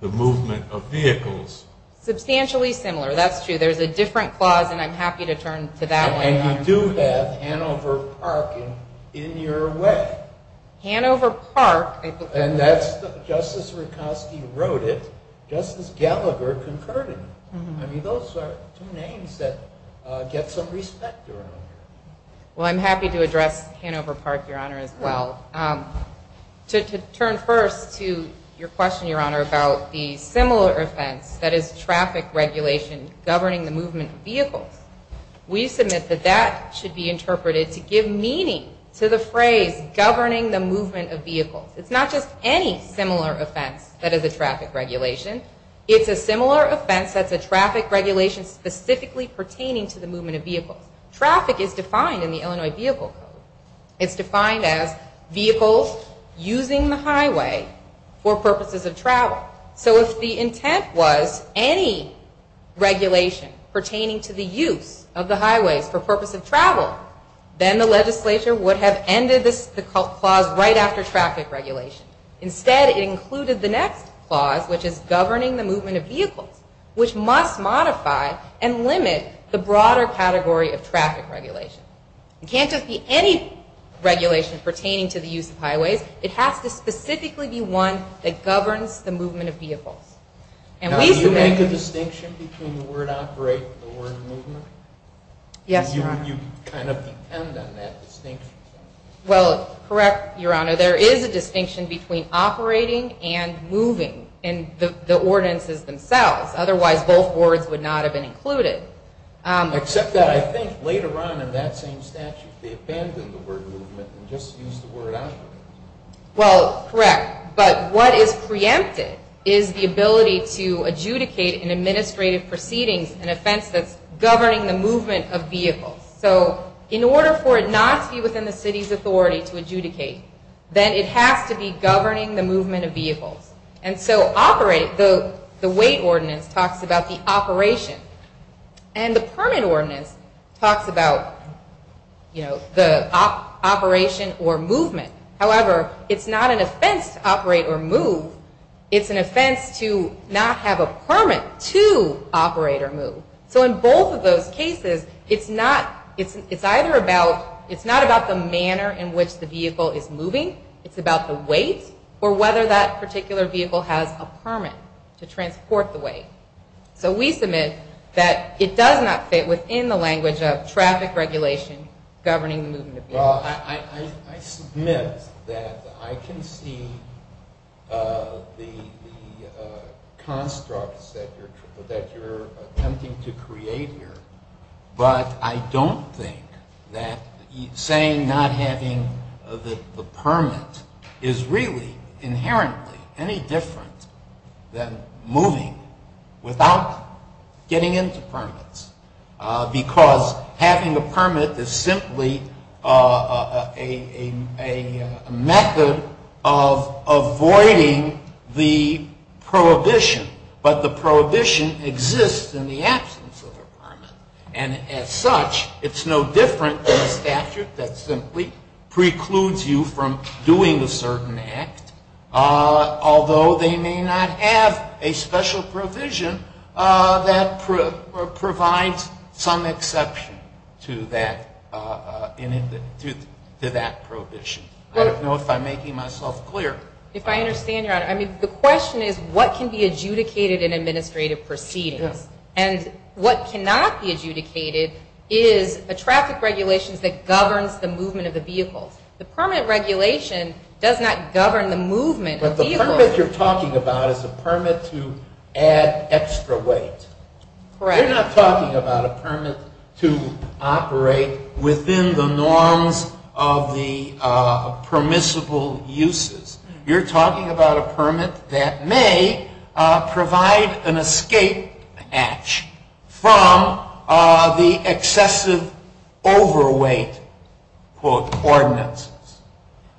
the movement of vehicles. Substantially similar. That's true. There's a different clause, and I'm happy to turn to that one. And you do have Hanover Park in your way. Hanover Park. And that's what Justice Rutkowski wrote it. Justice Gallagher concurred it. I mean, those are two names that get some respect around. Well, I'm happy to address Hanover Park, Your Honor, as well. To turn first to your question, Your Honor, about the similar offense that is traffic regulation governing the movement of vehicles, we submit that that should be interpreted to give meaning to the phrase governing the movement of vehicles. It's not just any similar offense that is a traffic regulation. It's a similar offense that's a traffic regulation specifically pertaining to the movement of vehicles. Traffic is defined in the Illinois Vehicle Code. It's defined as vehicles using the highway for purposes of travel. So if the intent was any regulation pertaining to the use of the highway for purposes of travel, then the legislature would have ended this clause right after traffic regulation. Instead, it included the next clause, which is governing the movement of vehicles, which must modify and limit the broader category of traffic regulation. It can't just be any regulation pertaining to the use of highways. It has to specifically be one that governs the movement of vehicles. And we've heard... Now, do you make a distinction between the word operate and the word movement? Yes. Or do you kind of depend on that distinction? Well, it's correct, Your Honor. There is a distinction between operating and moving in the ordinances themselves. Otherwise, both words would not have been included. Except that I think later on in that same statute, they abandoned the word movement and just used the word operate. Well, correct. But what is preempted is the ability to adjudicate an administrative proceeding, an offense that's governing the movement of vehicles. So in order for it not to be within the city's authority to adjudicate, then it has to be governing the movement of vehicles. And so operate, the weight ordinance, talks about the operation. And the permit ordinance talks about, you know, the operation or movement. However, it's not an offense to operate or move. It's an offense to not have a permit to operate or move. So in both of those cases, it's not about the manner in which the vehicle is moving. It's about the weight or whether that particular vehicle has a permit to transport the weight. So we submit that it does not fit within the language of traffic regulation governing the movement of vehicles. Well, I submit that I can see the constructs that you're attempting to create here. But I don't think that saying not having the permit is really inherently any different than moving without getting into permits. Because having a permit is simply a method of avoiding the prohibition. But the prohibition exists in the absence of a permit. And as such, it's no different than a statute that simply precludes you from doing a certain act, although they may not have a special provision that provides some exception to that provision. At most, I'm making myself clear. If I understand right, I mean, the question is, what can be adjudicated in administrative proceedings? And what cannot be adjudicated is a traffic regulation that governs the movement of the vehicle. The permit regulation does not govern the movement of vehicles. But the permit you're talking about is a permit to add extra weight. Correct. You're not talking about a permit to operate within the norms of the permissible uses. You're talking about a permit that may provide an escape patch from the excessive overweight, quote, ordinances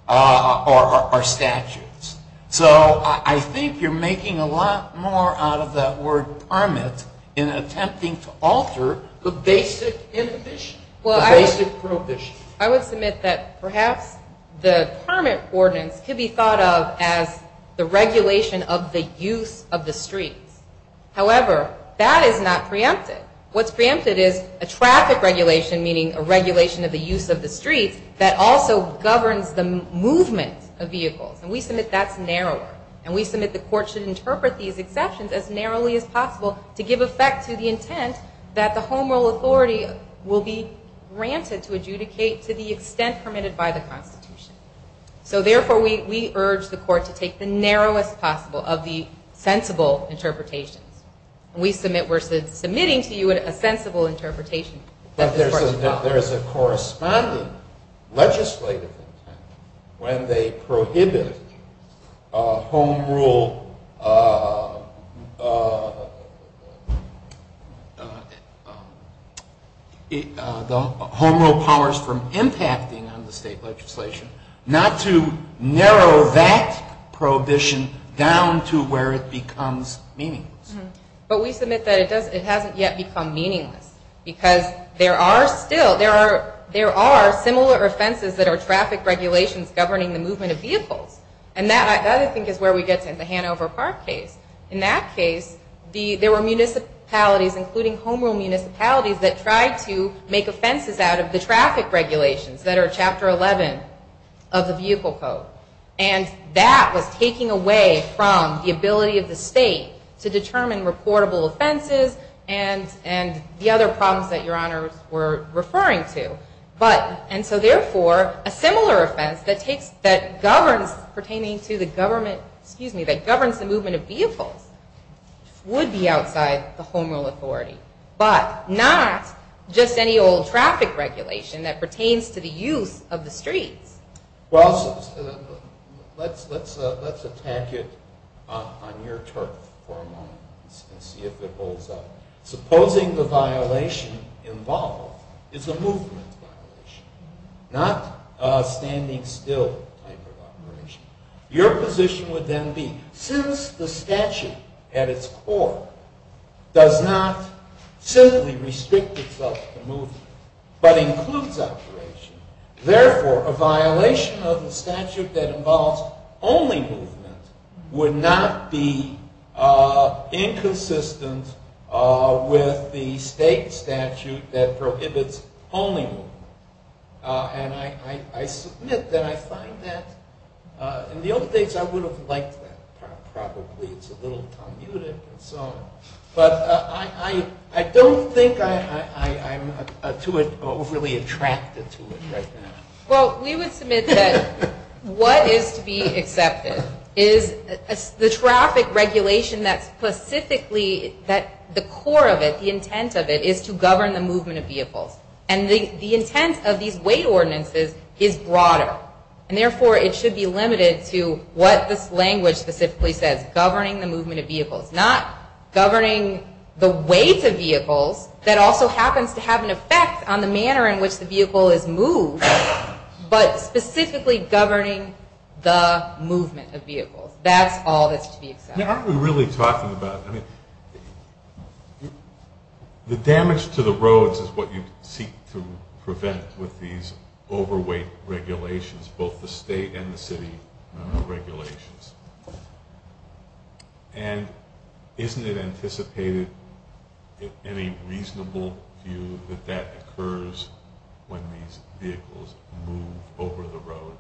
or statutes. So I think you're making a lot more out of that word permit in attempting to alter the basic prohibition. I would submit that perhaps the permit ordinance could be thought of as the regulation of the use of the street. However, that is not preempted. What's preempted is a traffic regulation, meaning a regulation of the use of the street, that also governs the movement of vehicles. And we submit that's narrower. And we submit the court should interpret these exceptions as narrowly as possible to give effect to the intent that the home rule authority will be granted to adjudicate to the extent permitted by the Constitution. So, therefore, we urge the court to take the narrowest possible of the sensible interpretations. We submit we're submitting to you a sensible interpretation. There is a corresponding legislative intent when they prohibit home rule powers from impacting on the state legislation, not to narrow that prohibition down to where it becomes meaningless. But we submit that it hasn't yet become meaningless. Because there are similar offenses that are traffic regulations governing the movement of vehicles. And that, I think, is where we get to the Hanover Park case. In that case, there were municipalities, including home rule municipalities, that tried to make offenses out of the traffic regulations that are Chapter 11 of the Vehicle Code. And that was taking away from the ability of the state to determine reportable offenses and the other problems that Your Honor were referring to. And so, therefore, a similar offense that governs pertaining to the government, excuse me, that governs the movement of vehicles would be outside the home rule authority. But not just any old traffic regulation that pertains to the use of the street. Well, let's attack it on your term for a moment and see if it holds up. Supposing the violation involved is a movement violation, not a standing still type of violation. Your position would then be, since the statute at its core does not simply restrict itself to movement, but includes operation, therefore, a violation of the statute that involves only movement would not be inconsistent with the state statute that prohibits only movement. And I submit that I find that. In the old days, I would have liked that. Probably it's a little commuted and so on. But I don't think I'm too overly attracted to it right now. Well, we would submit that what is to be accepted is the traffic regulation that specifically, that the core of it, the intent of it, is to govern the movement of vehicles. And the intent of these weight ordinances is broader. And, therefore, it should be limited to what this language specifically says, governing the movement of vehicles, not governing the weight of vehicles that also happens to have an effect on the manner in which the vehicle is moved, but specifically governing the movement of vehicles. That's all that should be accepted. Now, I've been really talking about it. The damage to the roads is what you seek to prevent with these overweight regulations, both the state and the city regulations. And isn't it anticipated, in a reasonable view, that that occurs when these vehicles move over the road?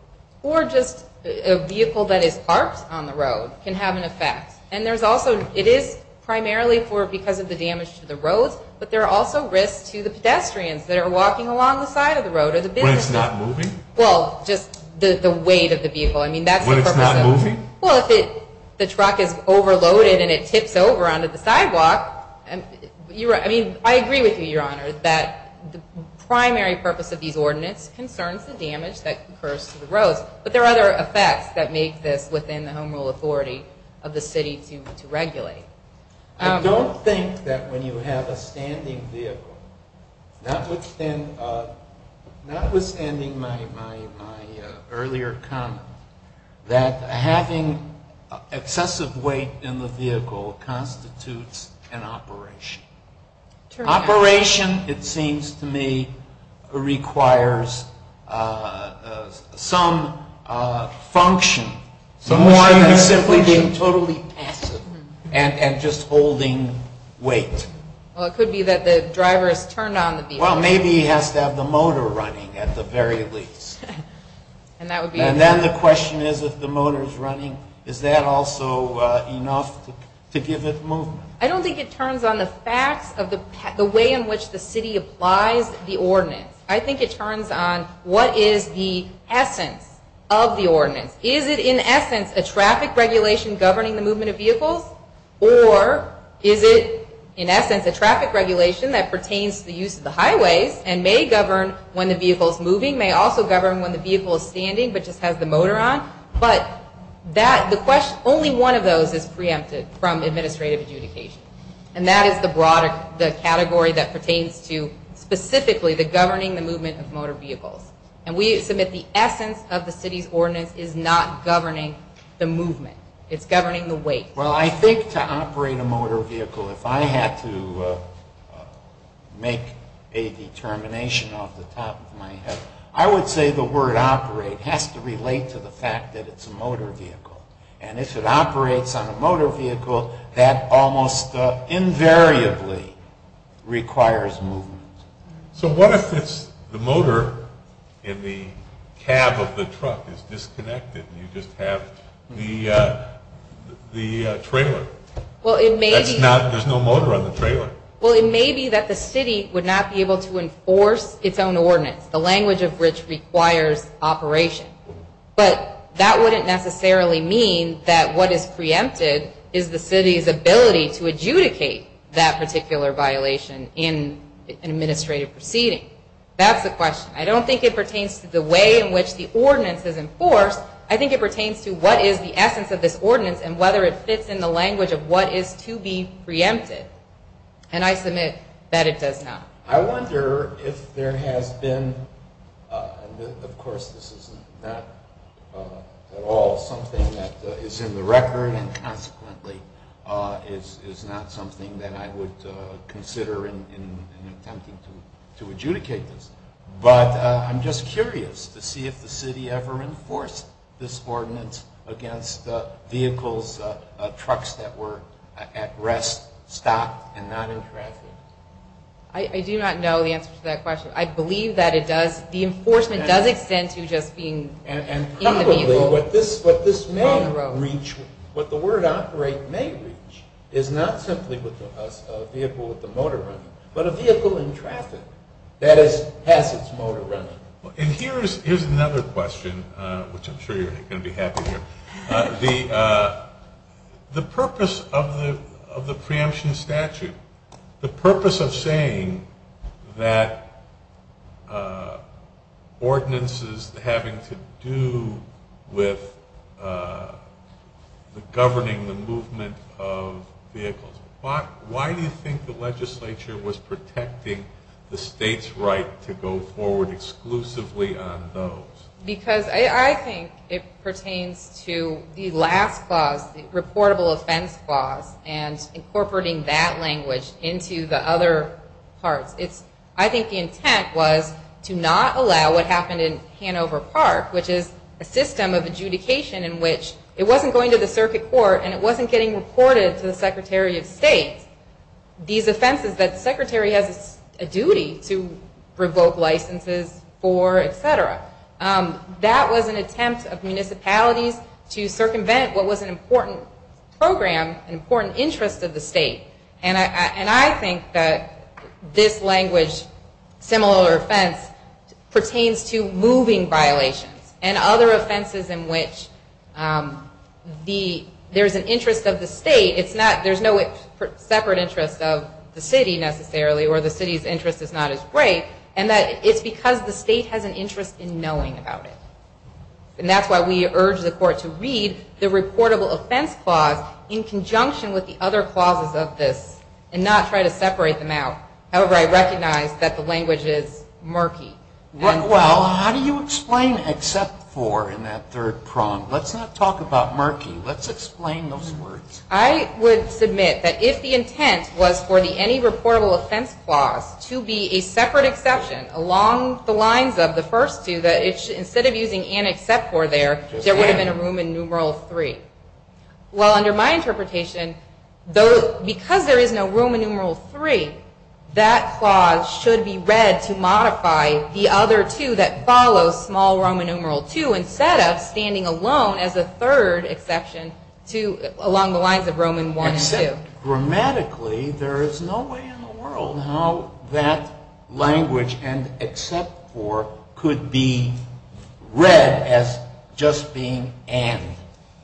Or just a vehicle that is parked on the road can have an effect. And there's also, it is primarily because of the damage to the roads, but there are also risks to the pedestrians that are walking along the side of the road. When it's not moving? Well, just the weight of the vehicle. When it's not moving? Well, if the truck is overloaded and it tips over onto the sidewalk, I agree with you, Your Honor, that the primary purpose of these ordinances concerns the damage that occurs to the roads. But there are other effects that make this within the home rule authority of the city to regulate. I don't think that when you have a standing vehicle, notwithstanding my earlier comment, that having excessive weight in the vehicle constitutes an operation. Operation, it seems to me, requires some function. More than simply being totally passive and just holding weight. Well, it could be that the driver is turned on the vehicle. Well, maybe he has to have the motor running at the very least. And then the question is, if the motor is running, is that also enough to give it movement? I don't think it turns on the fact of the way in which the city applies the ordinance. I think it turns on what is the essence of the ordinance. Is it, in essence, a traffic regulation governing the movement of vehicles? Or is it, in essence, a traffic regulation that pertains to the use of the highway and may govern when the vehicle is moving, may also govern when the vehicle is standing but just has the motor on? But only one of those is preempted from administrative adjudication. And that is the broader category that pertains to specifically the governing the movement of motor vehicles. And we assume that the essence of the city's ordinance is not governing the movement. It's governing the weight. Well, I think to operate a motor vehicle, if I had to make a determination off the top of my head, I would say the word operate has to relate to the fact that it's a motor vehicle. And if it operates on a motor vehicle, that almost invariably requires movement. So what if it's the motor in the cab of the truck is disconnected and you just have the trailer and there's no motor on the trailer? Well, it may be that the city would not be able to enforce its own ordinance, the language of which requires operation. But that wouldn't necessarily mean that what is preempted is the city's ability to adjudicate that particular violation in an administrative proceeding. That's the question. I don't think it pertains to the way in which the ordinance is enforced. I think it pertains to what is the essence of this ordinance and whether it fits in the language of what is to be preempted. And I submit that it does not. I wonder if there has been, and of course this is not at all something that is in the record and consequently is not something that I would consider in an attempt to adjudicate this, but I'm just curious to see if the city ever enforced this ordinance against vehicles, trucks that were at rest, stopped, and not in traffic. I do not know the answer to that question. I believe that it does. The enforcement does extend to just being... And possibly what this may reach, what the word operate may reach, is not simply a vehicle with a motor on it, but a vehicle in traffic that has its motor on it. And here's another question, which I'm sure you're going to be happy to hear. The purpose of the preemption statute, the purpose of saying that ordinances having to do with governing the movement of vehicles, why do you think the legislature was protecting the state's right to go forward exclusively on those? Because I think it pertains to the last clause, the reportable offense clause, and incorporating that language into the other parts. I think the intent was to not allow what happened in Hanover Park, which is a system of adjudication in which it wasn't going to the circuit court and it wasn't getting reported to the Secretary of State, these offenses that the Secretary has a duty to revoke licenses for, etc. That was an attempt of municipalities to circumvent what was an important program, an important interest of the state. And I think that this language, similar offense, pertains to moving violations and other offenses in which there's an interest of the state. There's no separate interest of the city necessarily, or the city's interest is not as great, and it's because the state has an interest in knowing about it. And that's why we urge the court to read the reportable offense clause in conjunction with the other clauses of this and not try to separate them out. However, I recognize that the language is murky. Well, how do you explain except for in that third prong? Let's not talk about murky. Let's explain those words. I would submit that if the intent was for the any reportable offense clause to be a separate exception along the lines of the first two, that instead of using an except for there, there would have been a Roman numeral three. Well, under my interpretation, because there is no Roman numeral three, that clause should be read to modify the other two that follow small Roman numeral two instead of standing alone as a third exception along the lines of Roman one and two. Grammatically, there is no way in the world how that language and except for could be read as just being and.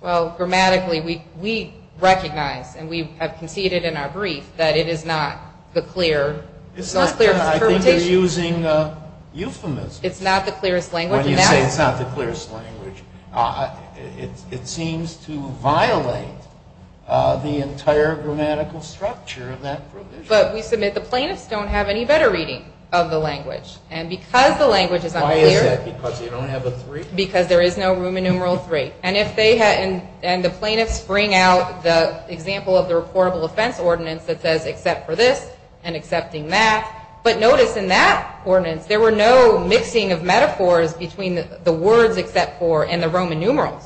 Well, grammatically, we recognize, and we have conceded in our brief, that it is not the clearest interpretation. I think you're using a euphemism. It's not the clearest language. When you say it's not the clearest language, it seems to violate the entire grammatical structure of that provision. But we submit the plaintiffs don't have any better reading of the language. And because the language is underrated. Why is that? Because you don't have the three? Because there is no Roman numeral three. And the plaintiffs bring out the example of the reportable offense ordinance that says except for this and accepting that. But notice in that ordinance, there were no mixing of metaphors between the words except for and the Roman numeral.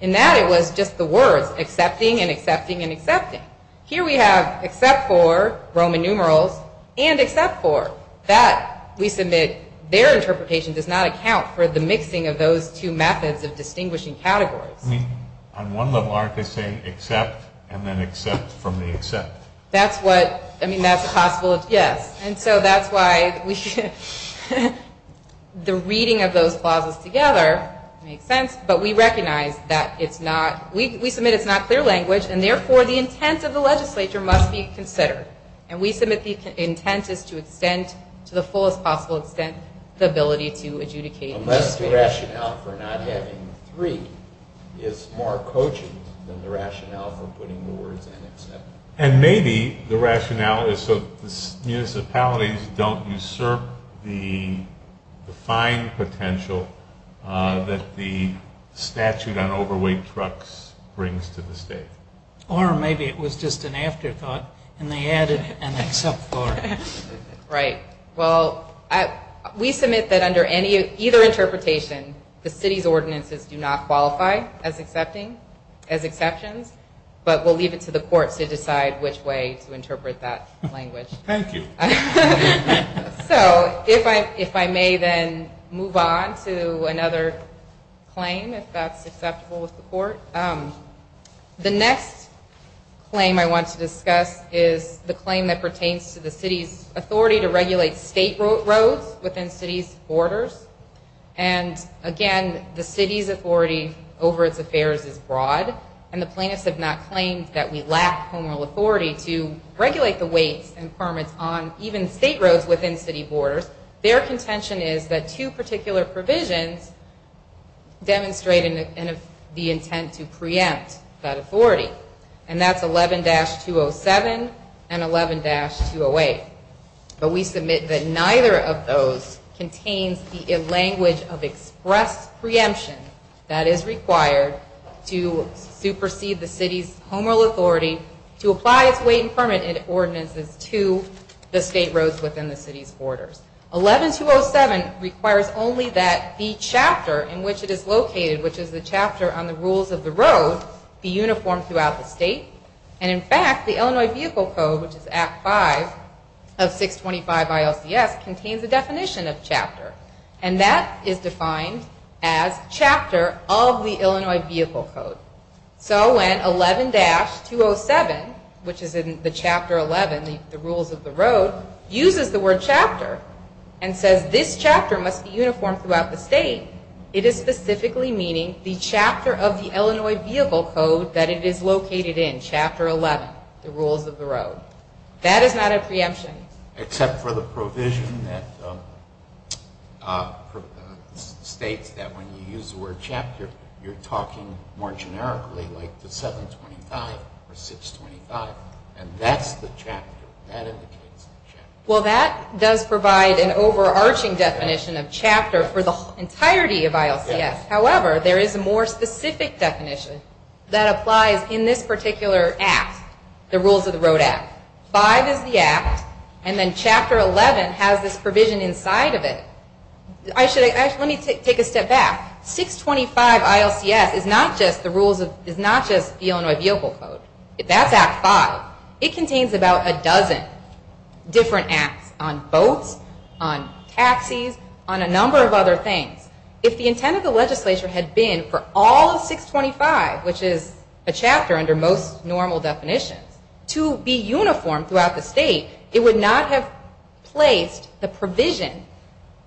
In that, it was just the words accepting and accepting and accepting. Here we have except for, Roman numeral, and except for. That, we submit, their interpretation does not account for the mixing of those two methods of distinguishing categories. I mean, on one level, aren't they saying except and then except from the except? That's what, I mean, that's a possible, yes. And so that's why we should, the reading of those clauses together makes sense. But we recognize that it's not, we submit it's not clear language. And therefore, the intent of the legislature must be considered. And we submit the intent is to extend, to the fullest possible extent, the ability to adjudicate. Unless the rationale for not getting the three is more coaching than the rationale for putting the words in except. And maybe the rationale is to use the paladins that don't usurp the fine potential that the statute on overweight trucks brings to the state. Or maybe it was just an afterthought and they added an except for. Right. Well, we submit that under any, either interpretation, the city's ordinances do not qualify as accepting, as exceptions. But we'll leave it to the court to decide which way to interpret that language. So, if I may then move on to another claim, if that's acceptable with the court. The next claim I want to discuss is the claim that pertains to the city's authority to regulate state roads within city's borders. And again, the city's authority over its affairs is broad. And the plaintiffs have not claimed that we lack formal authority to regulate the weight and permits on even state roads within city borders. Their contention is that two particular provisions demonstrate the intent to preempt that authority. And that's 11-207 and 11-208. But we submit that neither of those contains the language of express preemption that is required to supersede the city's home rule authority to apply its weight and permit ordinances to the state roads within the city's borders. 11-207 requires only that the chapter in which it is located, which is the chapter on the rules of the road, be uniform throughout the state. And in fact, the Illinois Vehicle Code, which is Act 5 of 625 ILCS, contains a definition of chapter. And that is defined as chapter of the Illinois Vehicle Code. So when 11-207, which is in the chapter 11, the rules of the road, uses the word chapter and says this chapter must be uniform throughout the state, it is specifically meaning the chapter of the Illinois Vehicle Code that it is located in, chapter 11, the rules of the road. That is not a preemption. Except for the provision that states that when you use the word chapter, you're talking more generically like the 725 or 625. And that's the chapter. Well, that does provide an overarching definition of chapter for the entirety of ILCS. However, there is a more specific definition that applies in this particular act, the rules of the road act. 5 is the act, and then chapter 11 has this provision inside of it. Actually, let me take a step back. 625 ILCS is not just the rules of, is not just the Illinois Vehicle Code. That's Act 5. It contains about a dozen different acts on boats, on taxis, on a number of other things. If the intent of the legislature had been for all of 625, which is a chapter under most normal definitions, to be uniform throughout the state, it would not have placed the provision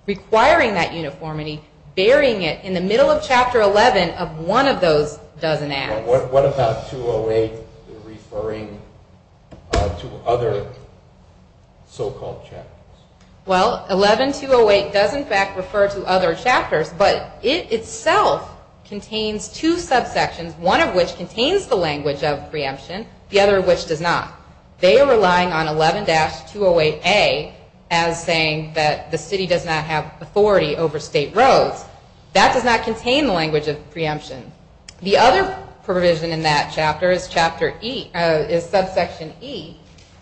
requiring that uniformity, burying it in the middle of chapter 11 of one of those dozen acts. What about 208 referring to other so-called chapters? Well, 11208 does in fact refer to other chapters, but it itself contains two subsections, one of which contains the language of preemption, the other of which does not. They are relying on 11-208A as saying that the city does not have authority over state roads. That does not contain the language of preemption. The other provision in that chapter is subsection E,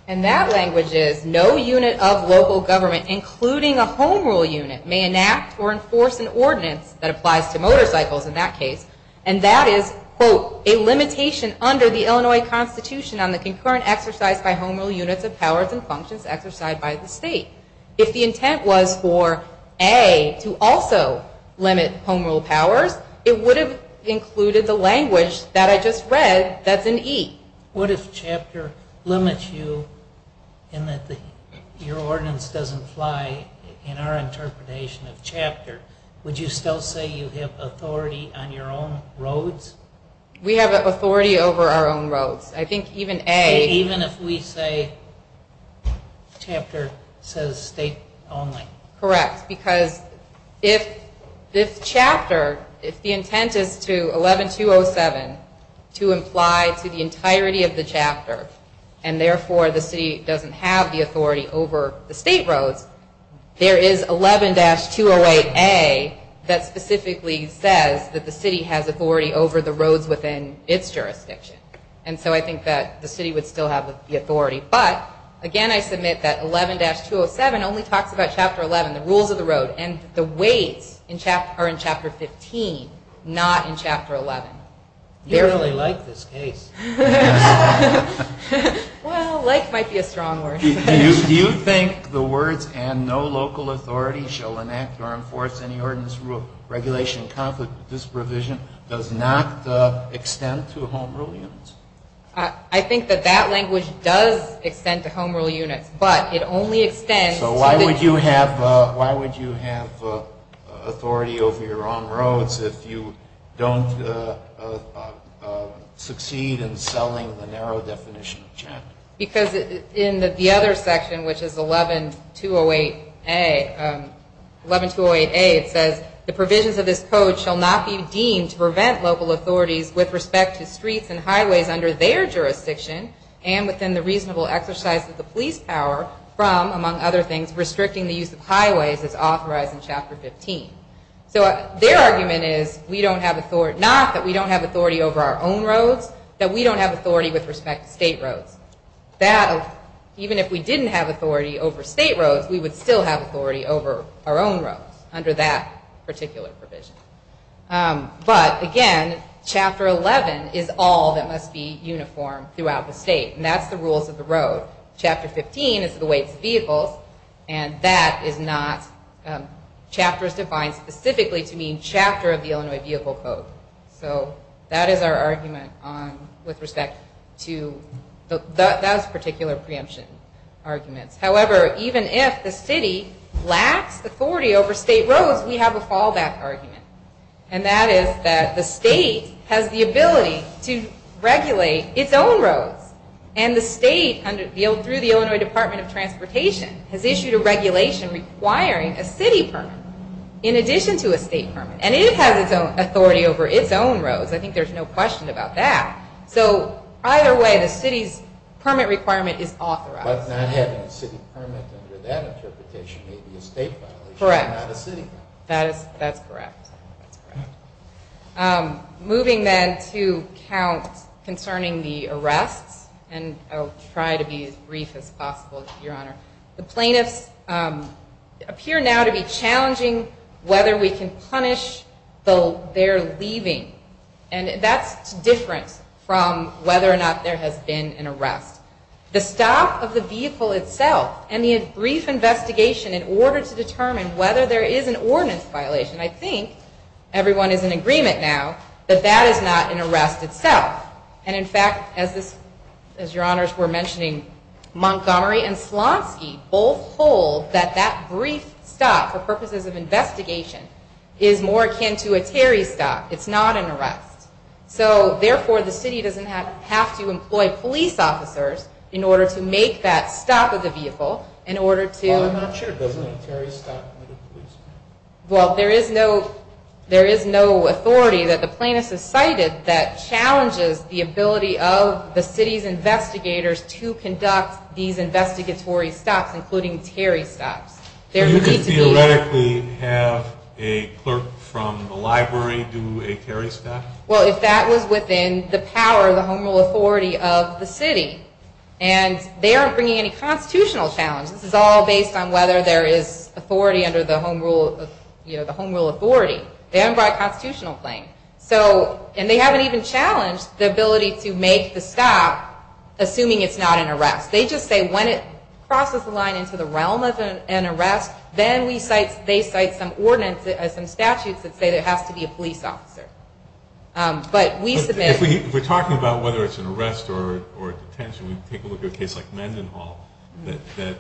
and that language is no unit of local government, including a home rule unit, may enact or enforce an ordinance that applies to motorcycles in that case, and that is, quote, a limitation under the Illinois Constitution on the concurrent exercise by home rule units of powers and functions exercised by the state. If the intent was for A to also limit home rule powers, it would have included the language that I just read that's in E. What if chapter limits you in that your ordinance doesn't apply in our interpretation of chapter? Would you still say you have authority on your own roads? We have authority over our own roads. I think even A... Even if we say chapter says state only. Correct, because if this chapter, if the intent is to 11-207 to apply to the entirety of the chapter, and therefore the city doesn't have the authority over the state roads, there is 11-208A that specifically says that the city has authority over the roads within its jurisdiction, and so I think that the city would still have the authority. But, again, I submit that 11-207 only talks about chapter 11, the rules of the road, and the weight are in chapter 15, not in chapter 11. You really like this case. Well, like might be a strong word. Do you think the words, and no local authority shall enact or enforce any ordinance rule, regulation, conflict, or disprovision does not extend to home rule units? I think that that language does extend to home rule units, but it only extends... So why would you have authority over your own roads if you don't succeed in selling the narrow definition of chapter? Because in the other section, which is 11-208A, 11-208A says, the provisions of this code shall not be deemed to prevent local authorities with respect to streets and highways under their jurisdiction and within the reasonable exercise of the police power from, among other things, restricting the use of highways as authorized in chapter 15. So their argument is, not that we don't have authority over our own roads, that we don't have authority with respect to state roads. Even if we didn't have authority over state roads, we would still have authority over our own roads under that particular provision. But again, chapter 11 is all that must be uniform throughout the state, and that's the rules of the road. Chapter 15 is the weight of the vehicle, and that is not... Chapter is defined specifically to mean chapter of the Illinois Vehicle Code. So that is our argument with respect to that particular preemption argument. However, even if the city lacks authority over state roads, we have a fallback argument, and that is that the state has the ability to regulate its own roads. And the state, through the Illinois Department of Transportation, has issued a regulation requiring a city permit in addition to a state permit. And it has its own authority over its own roads. I think there's no question about that. So either way, the city permit requirement is authorized. But not having a city permit under that interpretation would be a state violation. Correct. That's correct. Moving then to count concerning the arrest, and I'll try to be as brief as possible, Your Honor. The plaintiffs appear now to be challenging whether we can punish their leaving. And that's different from whether or not there has been an arrest. The stop of the vehicle itself and the brief investigation in order to determine whether there is an ordinance violation, I think everyone is in agreement now, that that is not an arrest itself. And in fact, as Your Honors were mentioning, Montgomery and Slotsky both hold that that brief stop for purposes of investigation is more akin to a carry stop. It's not an arrest. So therefore, the city doesn't have to employ police officers in order to make that stop of the vehicle. Well, I'm not sure it doesn't carry a stop. Well, there is no authority that the plaintiff has cited that challenges the ability of the city's investigators to conduct these investigatory stops, including carry stops. So you could theoretically have a clerk from the library do a carry stop? Well, if that was within the power of the home authority of the city. And they aren't bringing any constitutional challenges. This is all based on whether there is authority under the home rule authority. They haven't brought constitutional claims. And they haven't even challenged the ability to make the stop, assuming it's not an arrest. They just say when it crosses the line into the realm of an arrest, then they cite some statutes that say there has to be a police officer. We're talking about whether it's an arrest or detention. Take a look at a case like Mendenhall that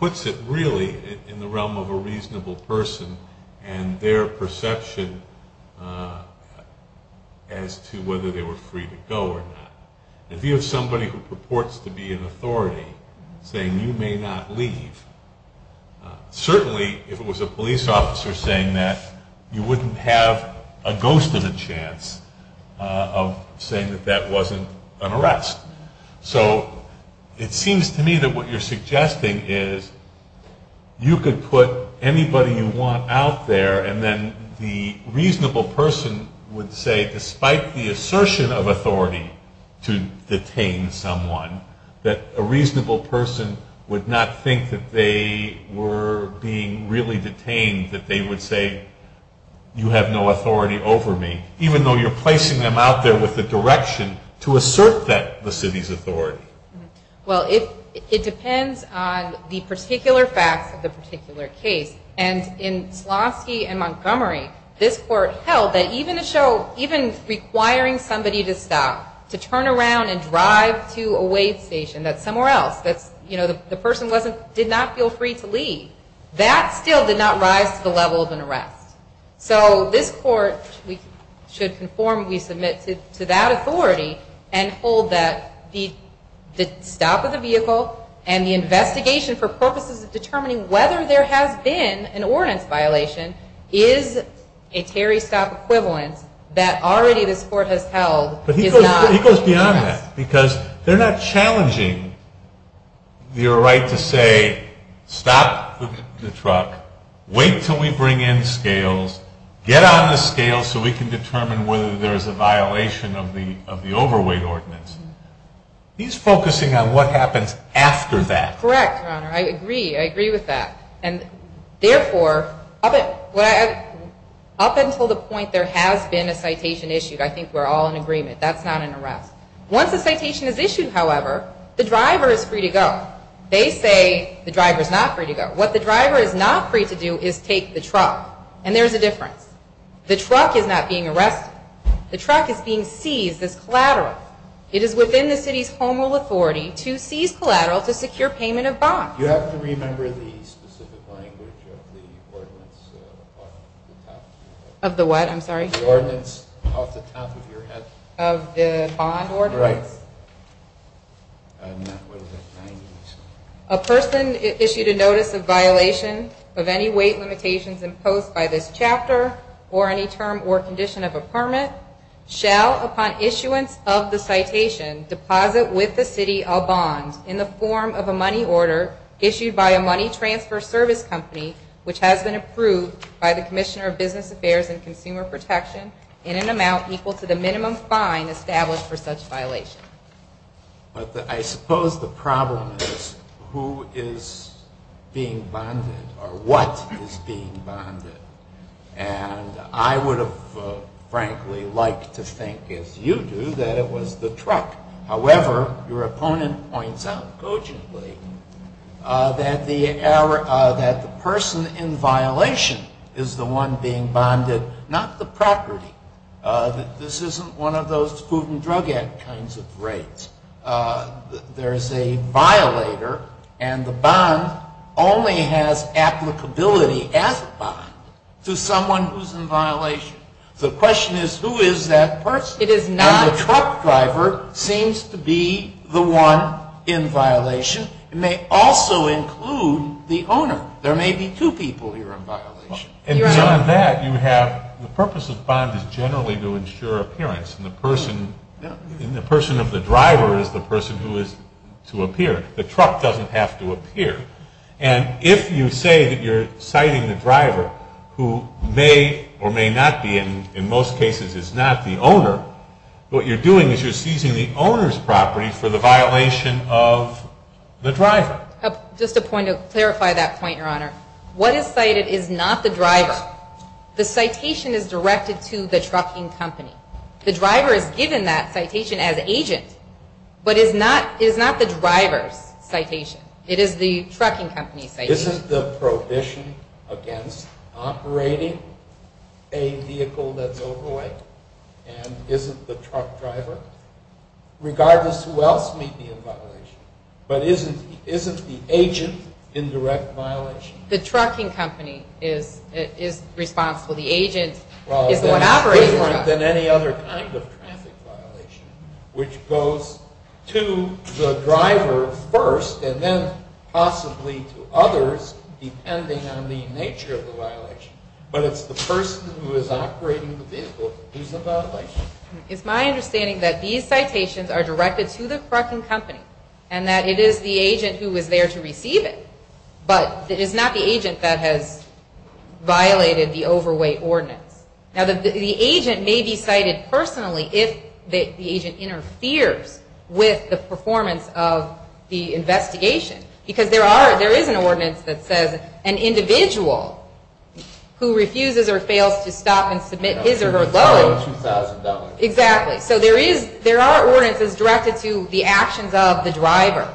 puts it really in the realm of a reasonable person and their perception as to whether they were free to go or not. If you have somebody who purports to be an authority saying you may not leave, certainly if it was a police officer saying that, you wouldn't have a ghost of a chance of saying that that wasn't an arrest. So it seems to me that what you're suggesting is you could put anybody you want out there and then the reasonable person would say, despite the assertion of authority to detain someone, that a reasonable person would not think that they were being really detained, that they would say, you have no authority over me, even though you're placing them out there with the direction to assert that the city's authority. Well, it depends on the particular fact of the particular case. And in Pulaski and Montgomery, this court held that even requiring somebody to stop, to turn around and drive to a wave station that's somewhere else, that the person did not feel free to leave, that still did not rise to levels of arrest. So this court should conform to be submitted to that authority and hold that the stop of the vehicle and the investigation for purposes of determining whether there has been an ordinance violation is a carry-stop equivalent that already the court has held is not. He goes beyond that because they're not challenging your right to say, stop the truck, wait until we bring in scales, get on the scale so we can determine whether there's a violation of the overweight ordinance. He's focusing on what happens after that. Correct, Your Honor. I agree. I agree with that. And therefore, up until the point there has been a citation issued, I think we're all in agreement, that's not an arrest. Once a citation is issued, however, the driver is free to go. They say the driver is not free to go. What the driver is not free to do is take the truck. And there's a difference. The truck is not being arrested. The truck is being seized as collateral. It is within the city's formal authority to seize collateral to secure payment of bonds. Do you happen to remember the specific language of the ordinance? Of the what? I'm sorry? The ordinance of the bond order. Right. A person issued a notice of violation of any weight limitations imposed by this chapter or any term or condition of a permit shall, upon issuance of the citation, deposit with the city a bond in the form of a money order issued by a money transfer service company which has been approved by the Commissioner of Business Affairs and Consumer Protection in an amount equal to the minimum fine established for such violations. But I suppose the problem is who is being bonded or what is being bonded. And I would have, frankly, liked to think, as you do, that it was the truck. However, your opponent points out cogently that the person in violation is the one being bonded, not the property. This isn't one of those Food and Drug Act kinds of breaks. There's a violator, and the bond only has applicability as a bond to someone who's in violation. The question is, who is that person? Now, the truck driver seems to be the one in violation. It may also include the owner. There may be two people who are in violation. And beyond that, the purpose of bond is generally to ensure appearance. The person of the driver is the person who is to appear. The truck doesn't have to appear. And if you say that you're citing the driver, who may or may not be, in most cases, is not the owner, what you're doing is you're seizing the owner's property for the violation of the driver. Just a point to clarify that point, Your Honor. What is cited is not the driver. The citation is directed to the trucking company. The driver is given that citation as agent, but it is not the driver's citation. It is the trucking company's citation. Isn't the prohibition against operating a vehicle that is overweight, and isn't the truck driver, regardless of who else may be in violation, but isn't the agent in direct violation? The trucking company is responsible. The agent is what operates the truck. It's different than any other kind of traffic violation, which goes to the driver first, and then possibly to others, depending on the nature of the violation. But it's the person who is operating the vehicle who's in violation. It's my understanding that these citations are directed to the trucking company, and that it is the agent who is there to receive it. But it is not the agent that has violated the overweight ordinance. Now, the agent may be cited personally if the agent interferes with the performance of the investigation, because there is an ordinance that says an individual who refuses or fails to stop and submit his or her voting. Exactly. So there are ordinances directed to the actions of the driver,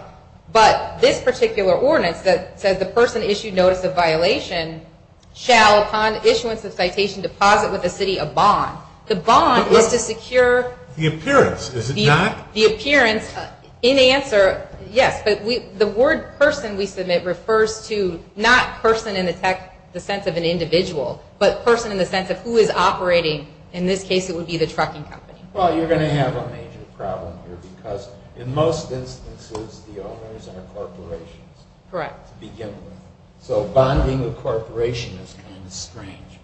but this particular ordinance that says the person issued notice of violation shall, upon issuance of citation, deposit with the city a bond. The bond is to secure... The appearance, is it not? The appearance, in answer, yes. But the word person we submit refers to not person in the sense of an individual, but person in the sense of who is operating, in this case it would be the trucking company. Well, you're going to have a major problem here, because in most instances the owners are corporations. Correct. So bonding with corporations is kind of strange.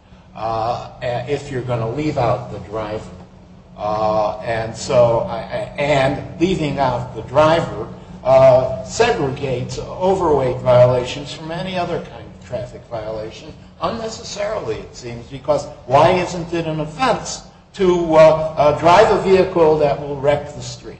If you're going to leave out the driver, and leaving out the driver segregates overweight violations from any other kind of traffic violation, unnecessarily it seems, because why isn't it an offense to drive a vehicle that will wreck the street?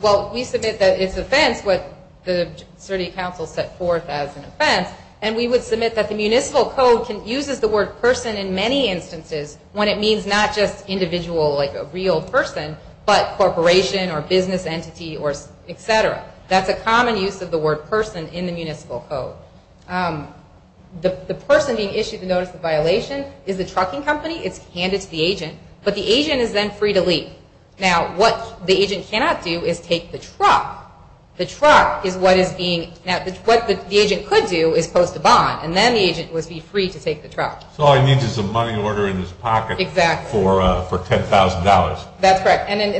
Well, we submit that it's an offense, but the city council set forth as an offense, and we would submit that the municipal code uses the word person in many instances when it means not just individual, like a real person, but corporation or business entity, etc. That's a common use of the word person in the municipal code. The person being issued the notice of violation is a trucking company, it's handed to the agent, but the agent is then free to leave. Now, what the agent cannot do is take the truck. The truck is what is being, what the agent could do is post a bond, and then the agent would be free to take the truck. So all you need is a money order in his pocket for $10,000. That's right. Or he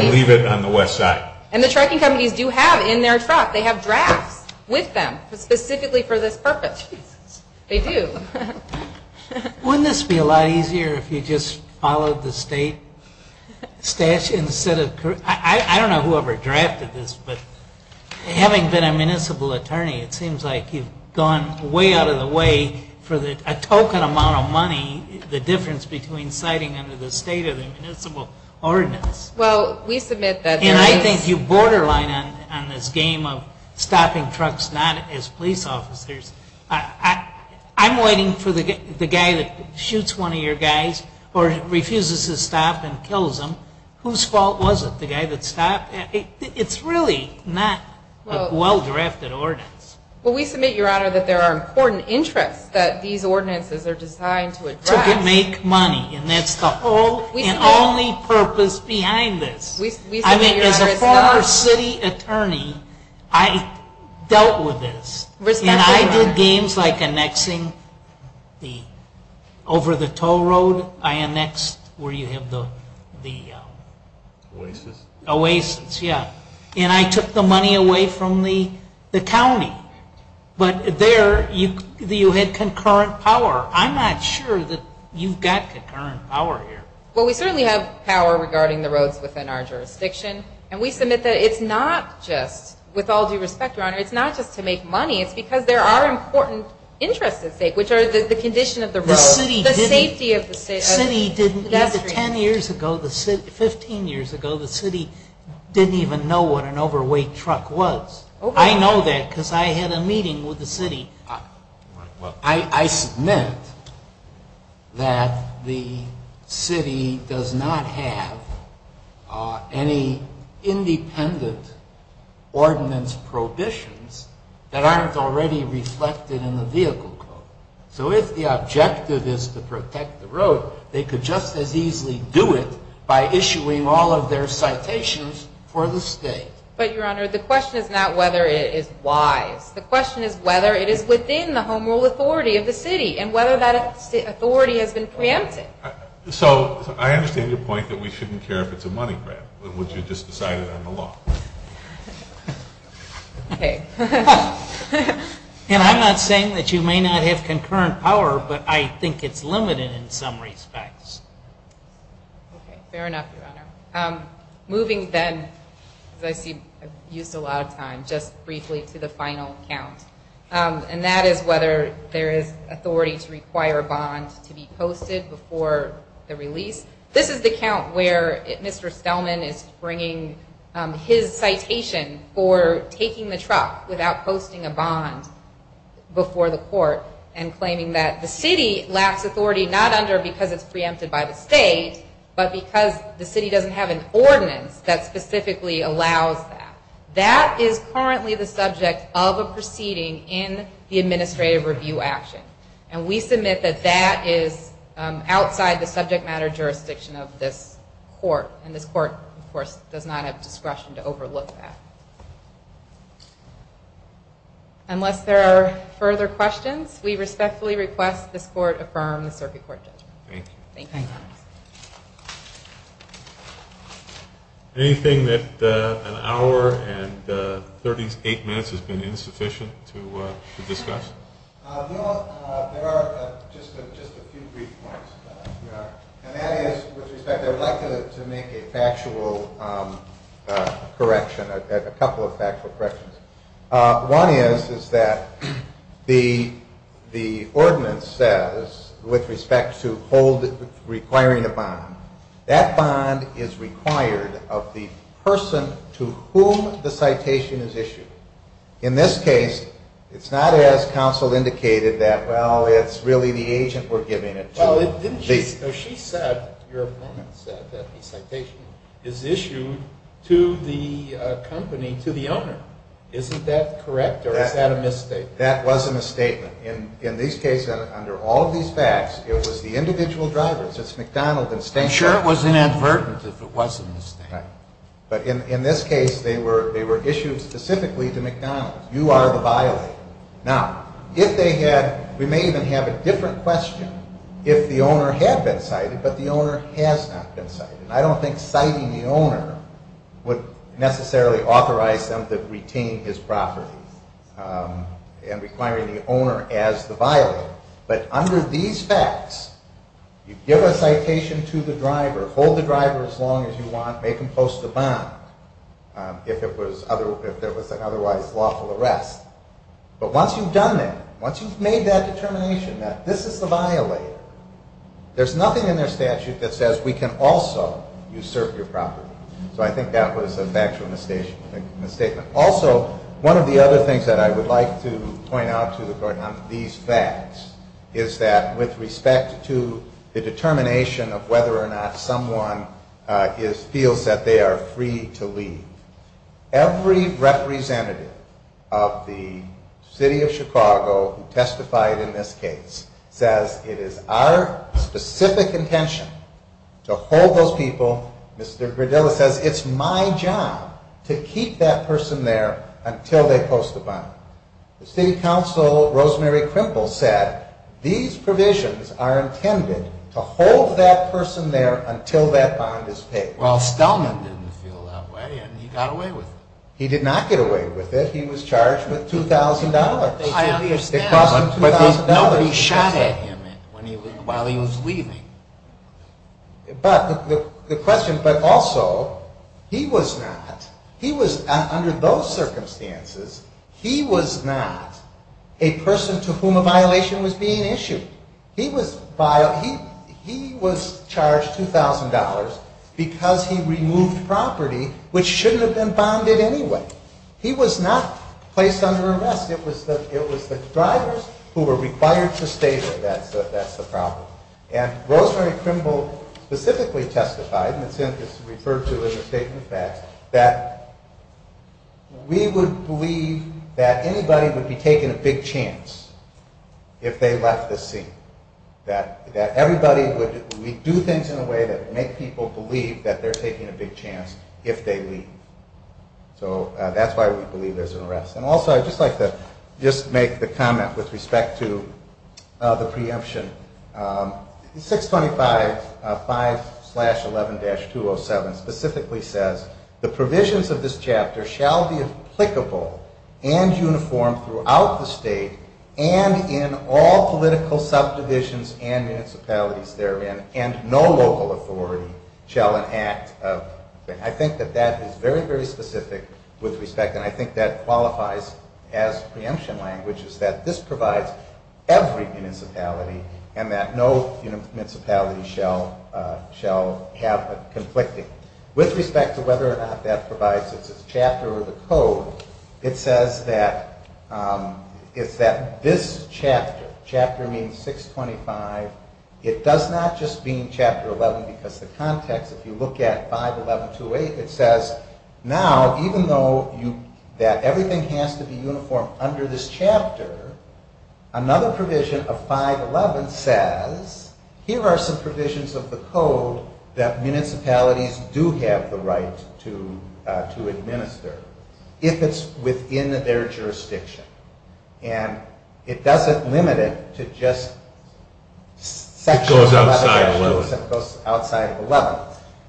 can leave it on the website. And the trucking companies do have in their truck, they have drafts with them, specifically for this person. They do. Wouldn't this be a lot easier if you just followed the state statute instead of, I don't know whoever drafted this, but having been a municipal attorney, it seems like you've gone way out of the way for a token amount of money, the difference between citing under the state of municipal ordinance. Well, we submit that there is. And I think you borderline on this game of stopping trucks not as police officers. I'm waiting for the guy that shoots one of your guys or refuses to stop and kills him. Whose fault was it? The guy that stopped? It's really not a well-directed ordinance. Well, we submit, Your Honor, that there are important interests that these ordinances are designed to address. To make money, and that's the whole and only purpose behind this. I mean, as a former city attorney, I dealt with this. I did games like annexing over the toll road. I annexed where you have the oasis. And I took the money away from the county. But there you had concurrent power. I'm not sure that you've got concurrent power here. Well, we certainly have power regarding the roads within our jurisdiction. And we submit that it's not just, with all due respect, Your Honor, it's not just to make money. It's because there are important interests at stake, which are the condition of the roads, the safety of the state. Ten years ago, 15 years ago, the city didn't even know what an overweight truck was. I know that because I had a meeting with the city. I submit that the city does not have any independent ordinance provisions that aren't already reflected in the vehicle code. So if the objective is to protect the roads, they could just as easily do it by issuing all of their citations for the state. But, Your Honor, the question is not whether it is wise. The question is whether it is within the home rule authority of the city and whether that authority has been preempted. So I understand your point that we shouldn't care if it's a money grab, which you just decided on the law. And I'm not saying that you may not have concurrent power, but I think it's limited in some respects. Fair enough, Your Honor. Moving then, as I've used a lot of time, just briefly to the final account. And that is whether there is authority to require a bond to be posted before the release. This is the account where Mr. Spellman is bringing his citation for taking the truck without posting a bond before the court and claiming that the city lacks authority, not under because it's preempted by the state, but because the city doesn't have enforcement that specifically allows that. That is currently the subject of a proceeding in the administrative review action. And we submit that that is outside the subject matter jurisdiction of this court. And this court, of course, does not have discretion to overlook that. Unless there are further questions, we respectfully request the court affirm the circuit court decision. Thank you. Anything that an hour and 38 minutes has been insufficient to discuss? No, there are just a few brief points. And that is, as you said, I would like to make a factual correction, a couple of factual corrections. One is that the ordinance says, with respect to requiring a bond, that bond is required of the person to whom the citation is issued. In this case, it's not as counsel indicated that, well, it's really the agent we're giving it to. No, she said, your opponent said, that the citation is issued to the company, to the owner. Isn't that correct, or is that a misstatement? That was a misstatement. In these cases, under all these facts, it was the individual driver. It's McDonald's. I'm sure it was an inadvertence, but it wasn't a misstatement. But in this case, they were issued specifically to McDonald's. You are the violator. Now, if they had, we may even have a different question, if the owner had been cited, but the owner has not been cited. I don't think citing the owner would necessarily authorize them to retain his property and requiring the owner as the violator. But under these facts, you give a citation to the driver, hold the driver as long as you want, make him post a bond if there was an otherwise lawful arrest. But once you've done that, once you've made that determination that this is the violator, there's nothing in the statute that says we can also usurp your property. So I think that was a factual misstatement. Also, one of the other things that I would like to point out to the court on these facts is that with respect to the determination of whether or not someone feels that they are free to leave, every representative of the city of Chicago who testified in this case says it is our specific intention to hold those people. Mr. Verdillo says it's my job to keep that person there until they post the bond. The city council, Rosemary Crimple, said these provisions are intended to hold that person there until that bond is paid. Well, Stallman didn't feel that way, and he got away with it. He did not get away with it. He was charged with $2,000. I understand, but he shot at him while he was leaving. But the question, but also, he was not. He was not a person to whom a violation was being issued. He was charged $2,000 because he removed property which shouldn't have been bonded anyway. He was not placed under arrest. It was the drivers who were required to stay there. That's the problem. And Rosemary Crimple specifically testified, referred to in the statement that we would believe that anybody would be taking a big chance if they left the scene, that everybody would do things in a way that would make people believe that they're taking a big chance if they leave. So that's why we believe there's an arrest. And also, I'd just like to just make the comment with respect to the preemption. 625.5-11-207 specifically says, the provisions of this chapter shall be applicable and uniform throughout the state and in all political subdivisions and municipalities therein, and no local authority shall enact. I think that that is very, very specific with respect, and I think that qualifies as preemption language, is that this provides every municipality and that no municipality shall have conflicting. With respect to whether or not that provides a chapter of the code, it says that this chapter, chapter meaning 625, it does not just mean chapter 11 because the context, if you look at 511-28, it says now, even though that everything has to be uniform under this chapter, another provision of 511 says, here are some provisions of the code that municipalities do have the right to administer if it's within their jurisdiction. And it doesn't limit it to just sexual assault outside of 11.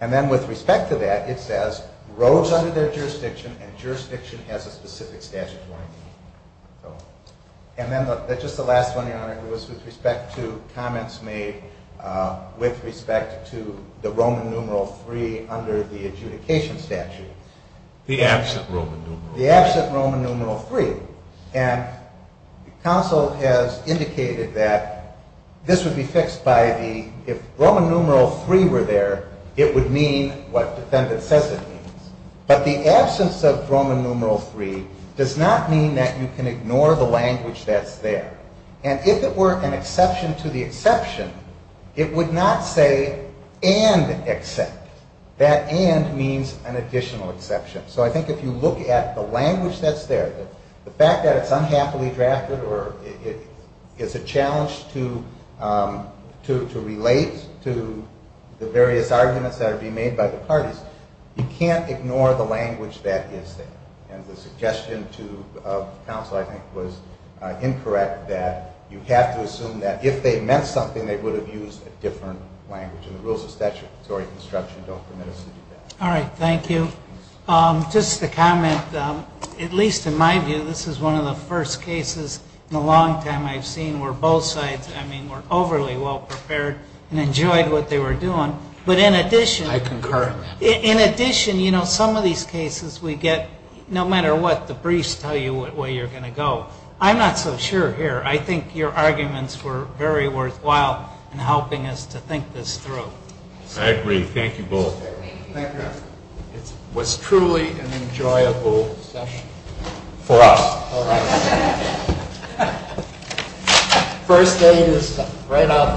And then with respect to that, it says, rose under their jurisdiction and jurisdiction has a specific statute for it. And then just the last one, Your Honor, with respect to comments made with respect to the Roman numeral 3 under the adjudication statute. The absent Roman numeral 3. The absent Roman numeral 3. And counsel has indicated that this would be fixed by the, if Roman numeral 3 were there, it would mean what the defendant says it means. But the absence of Roman numeral 3 does not mean that you can ignore the language that's there. And if it were an exception to the exception, it would not say and except. That and means an additional exception. So I think if you look at the language that's there, the fact that it's unhappily drafted or it's a challenge to relate to the various arguments that are being made by the parties, you can't ignore the language that is there. And the suggestion to counsel I think was incorrect that you have to assume that if they meant something, they would have used a different language. And the rules of statutory construction don't permit us to do that. All right. Thank you. Just to comment, at least in my view, this is one of the first cases in a long time I've seen where both sides, I mean, were overly well prepared and enjoyed what they were doing. But in addition, you know, some of these cases we get no matter what the briefs tell you where you're going to go. I'm not so sure here. I think your arguments were very worthwhile in helping us to think this through. I agree. Thank you both. Thank you. It was truly an enjoyable session for us. All right. First day in Michigan, right out the door.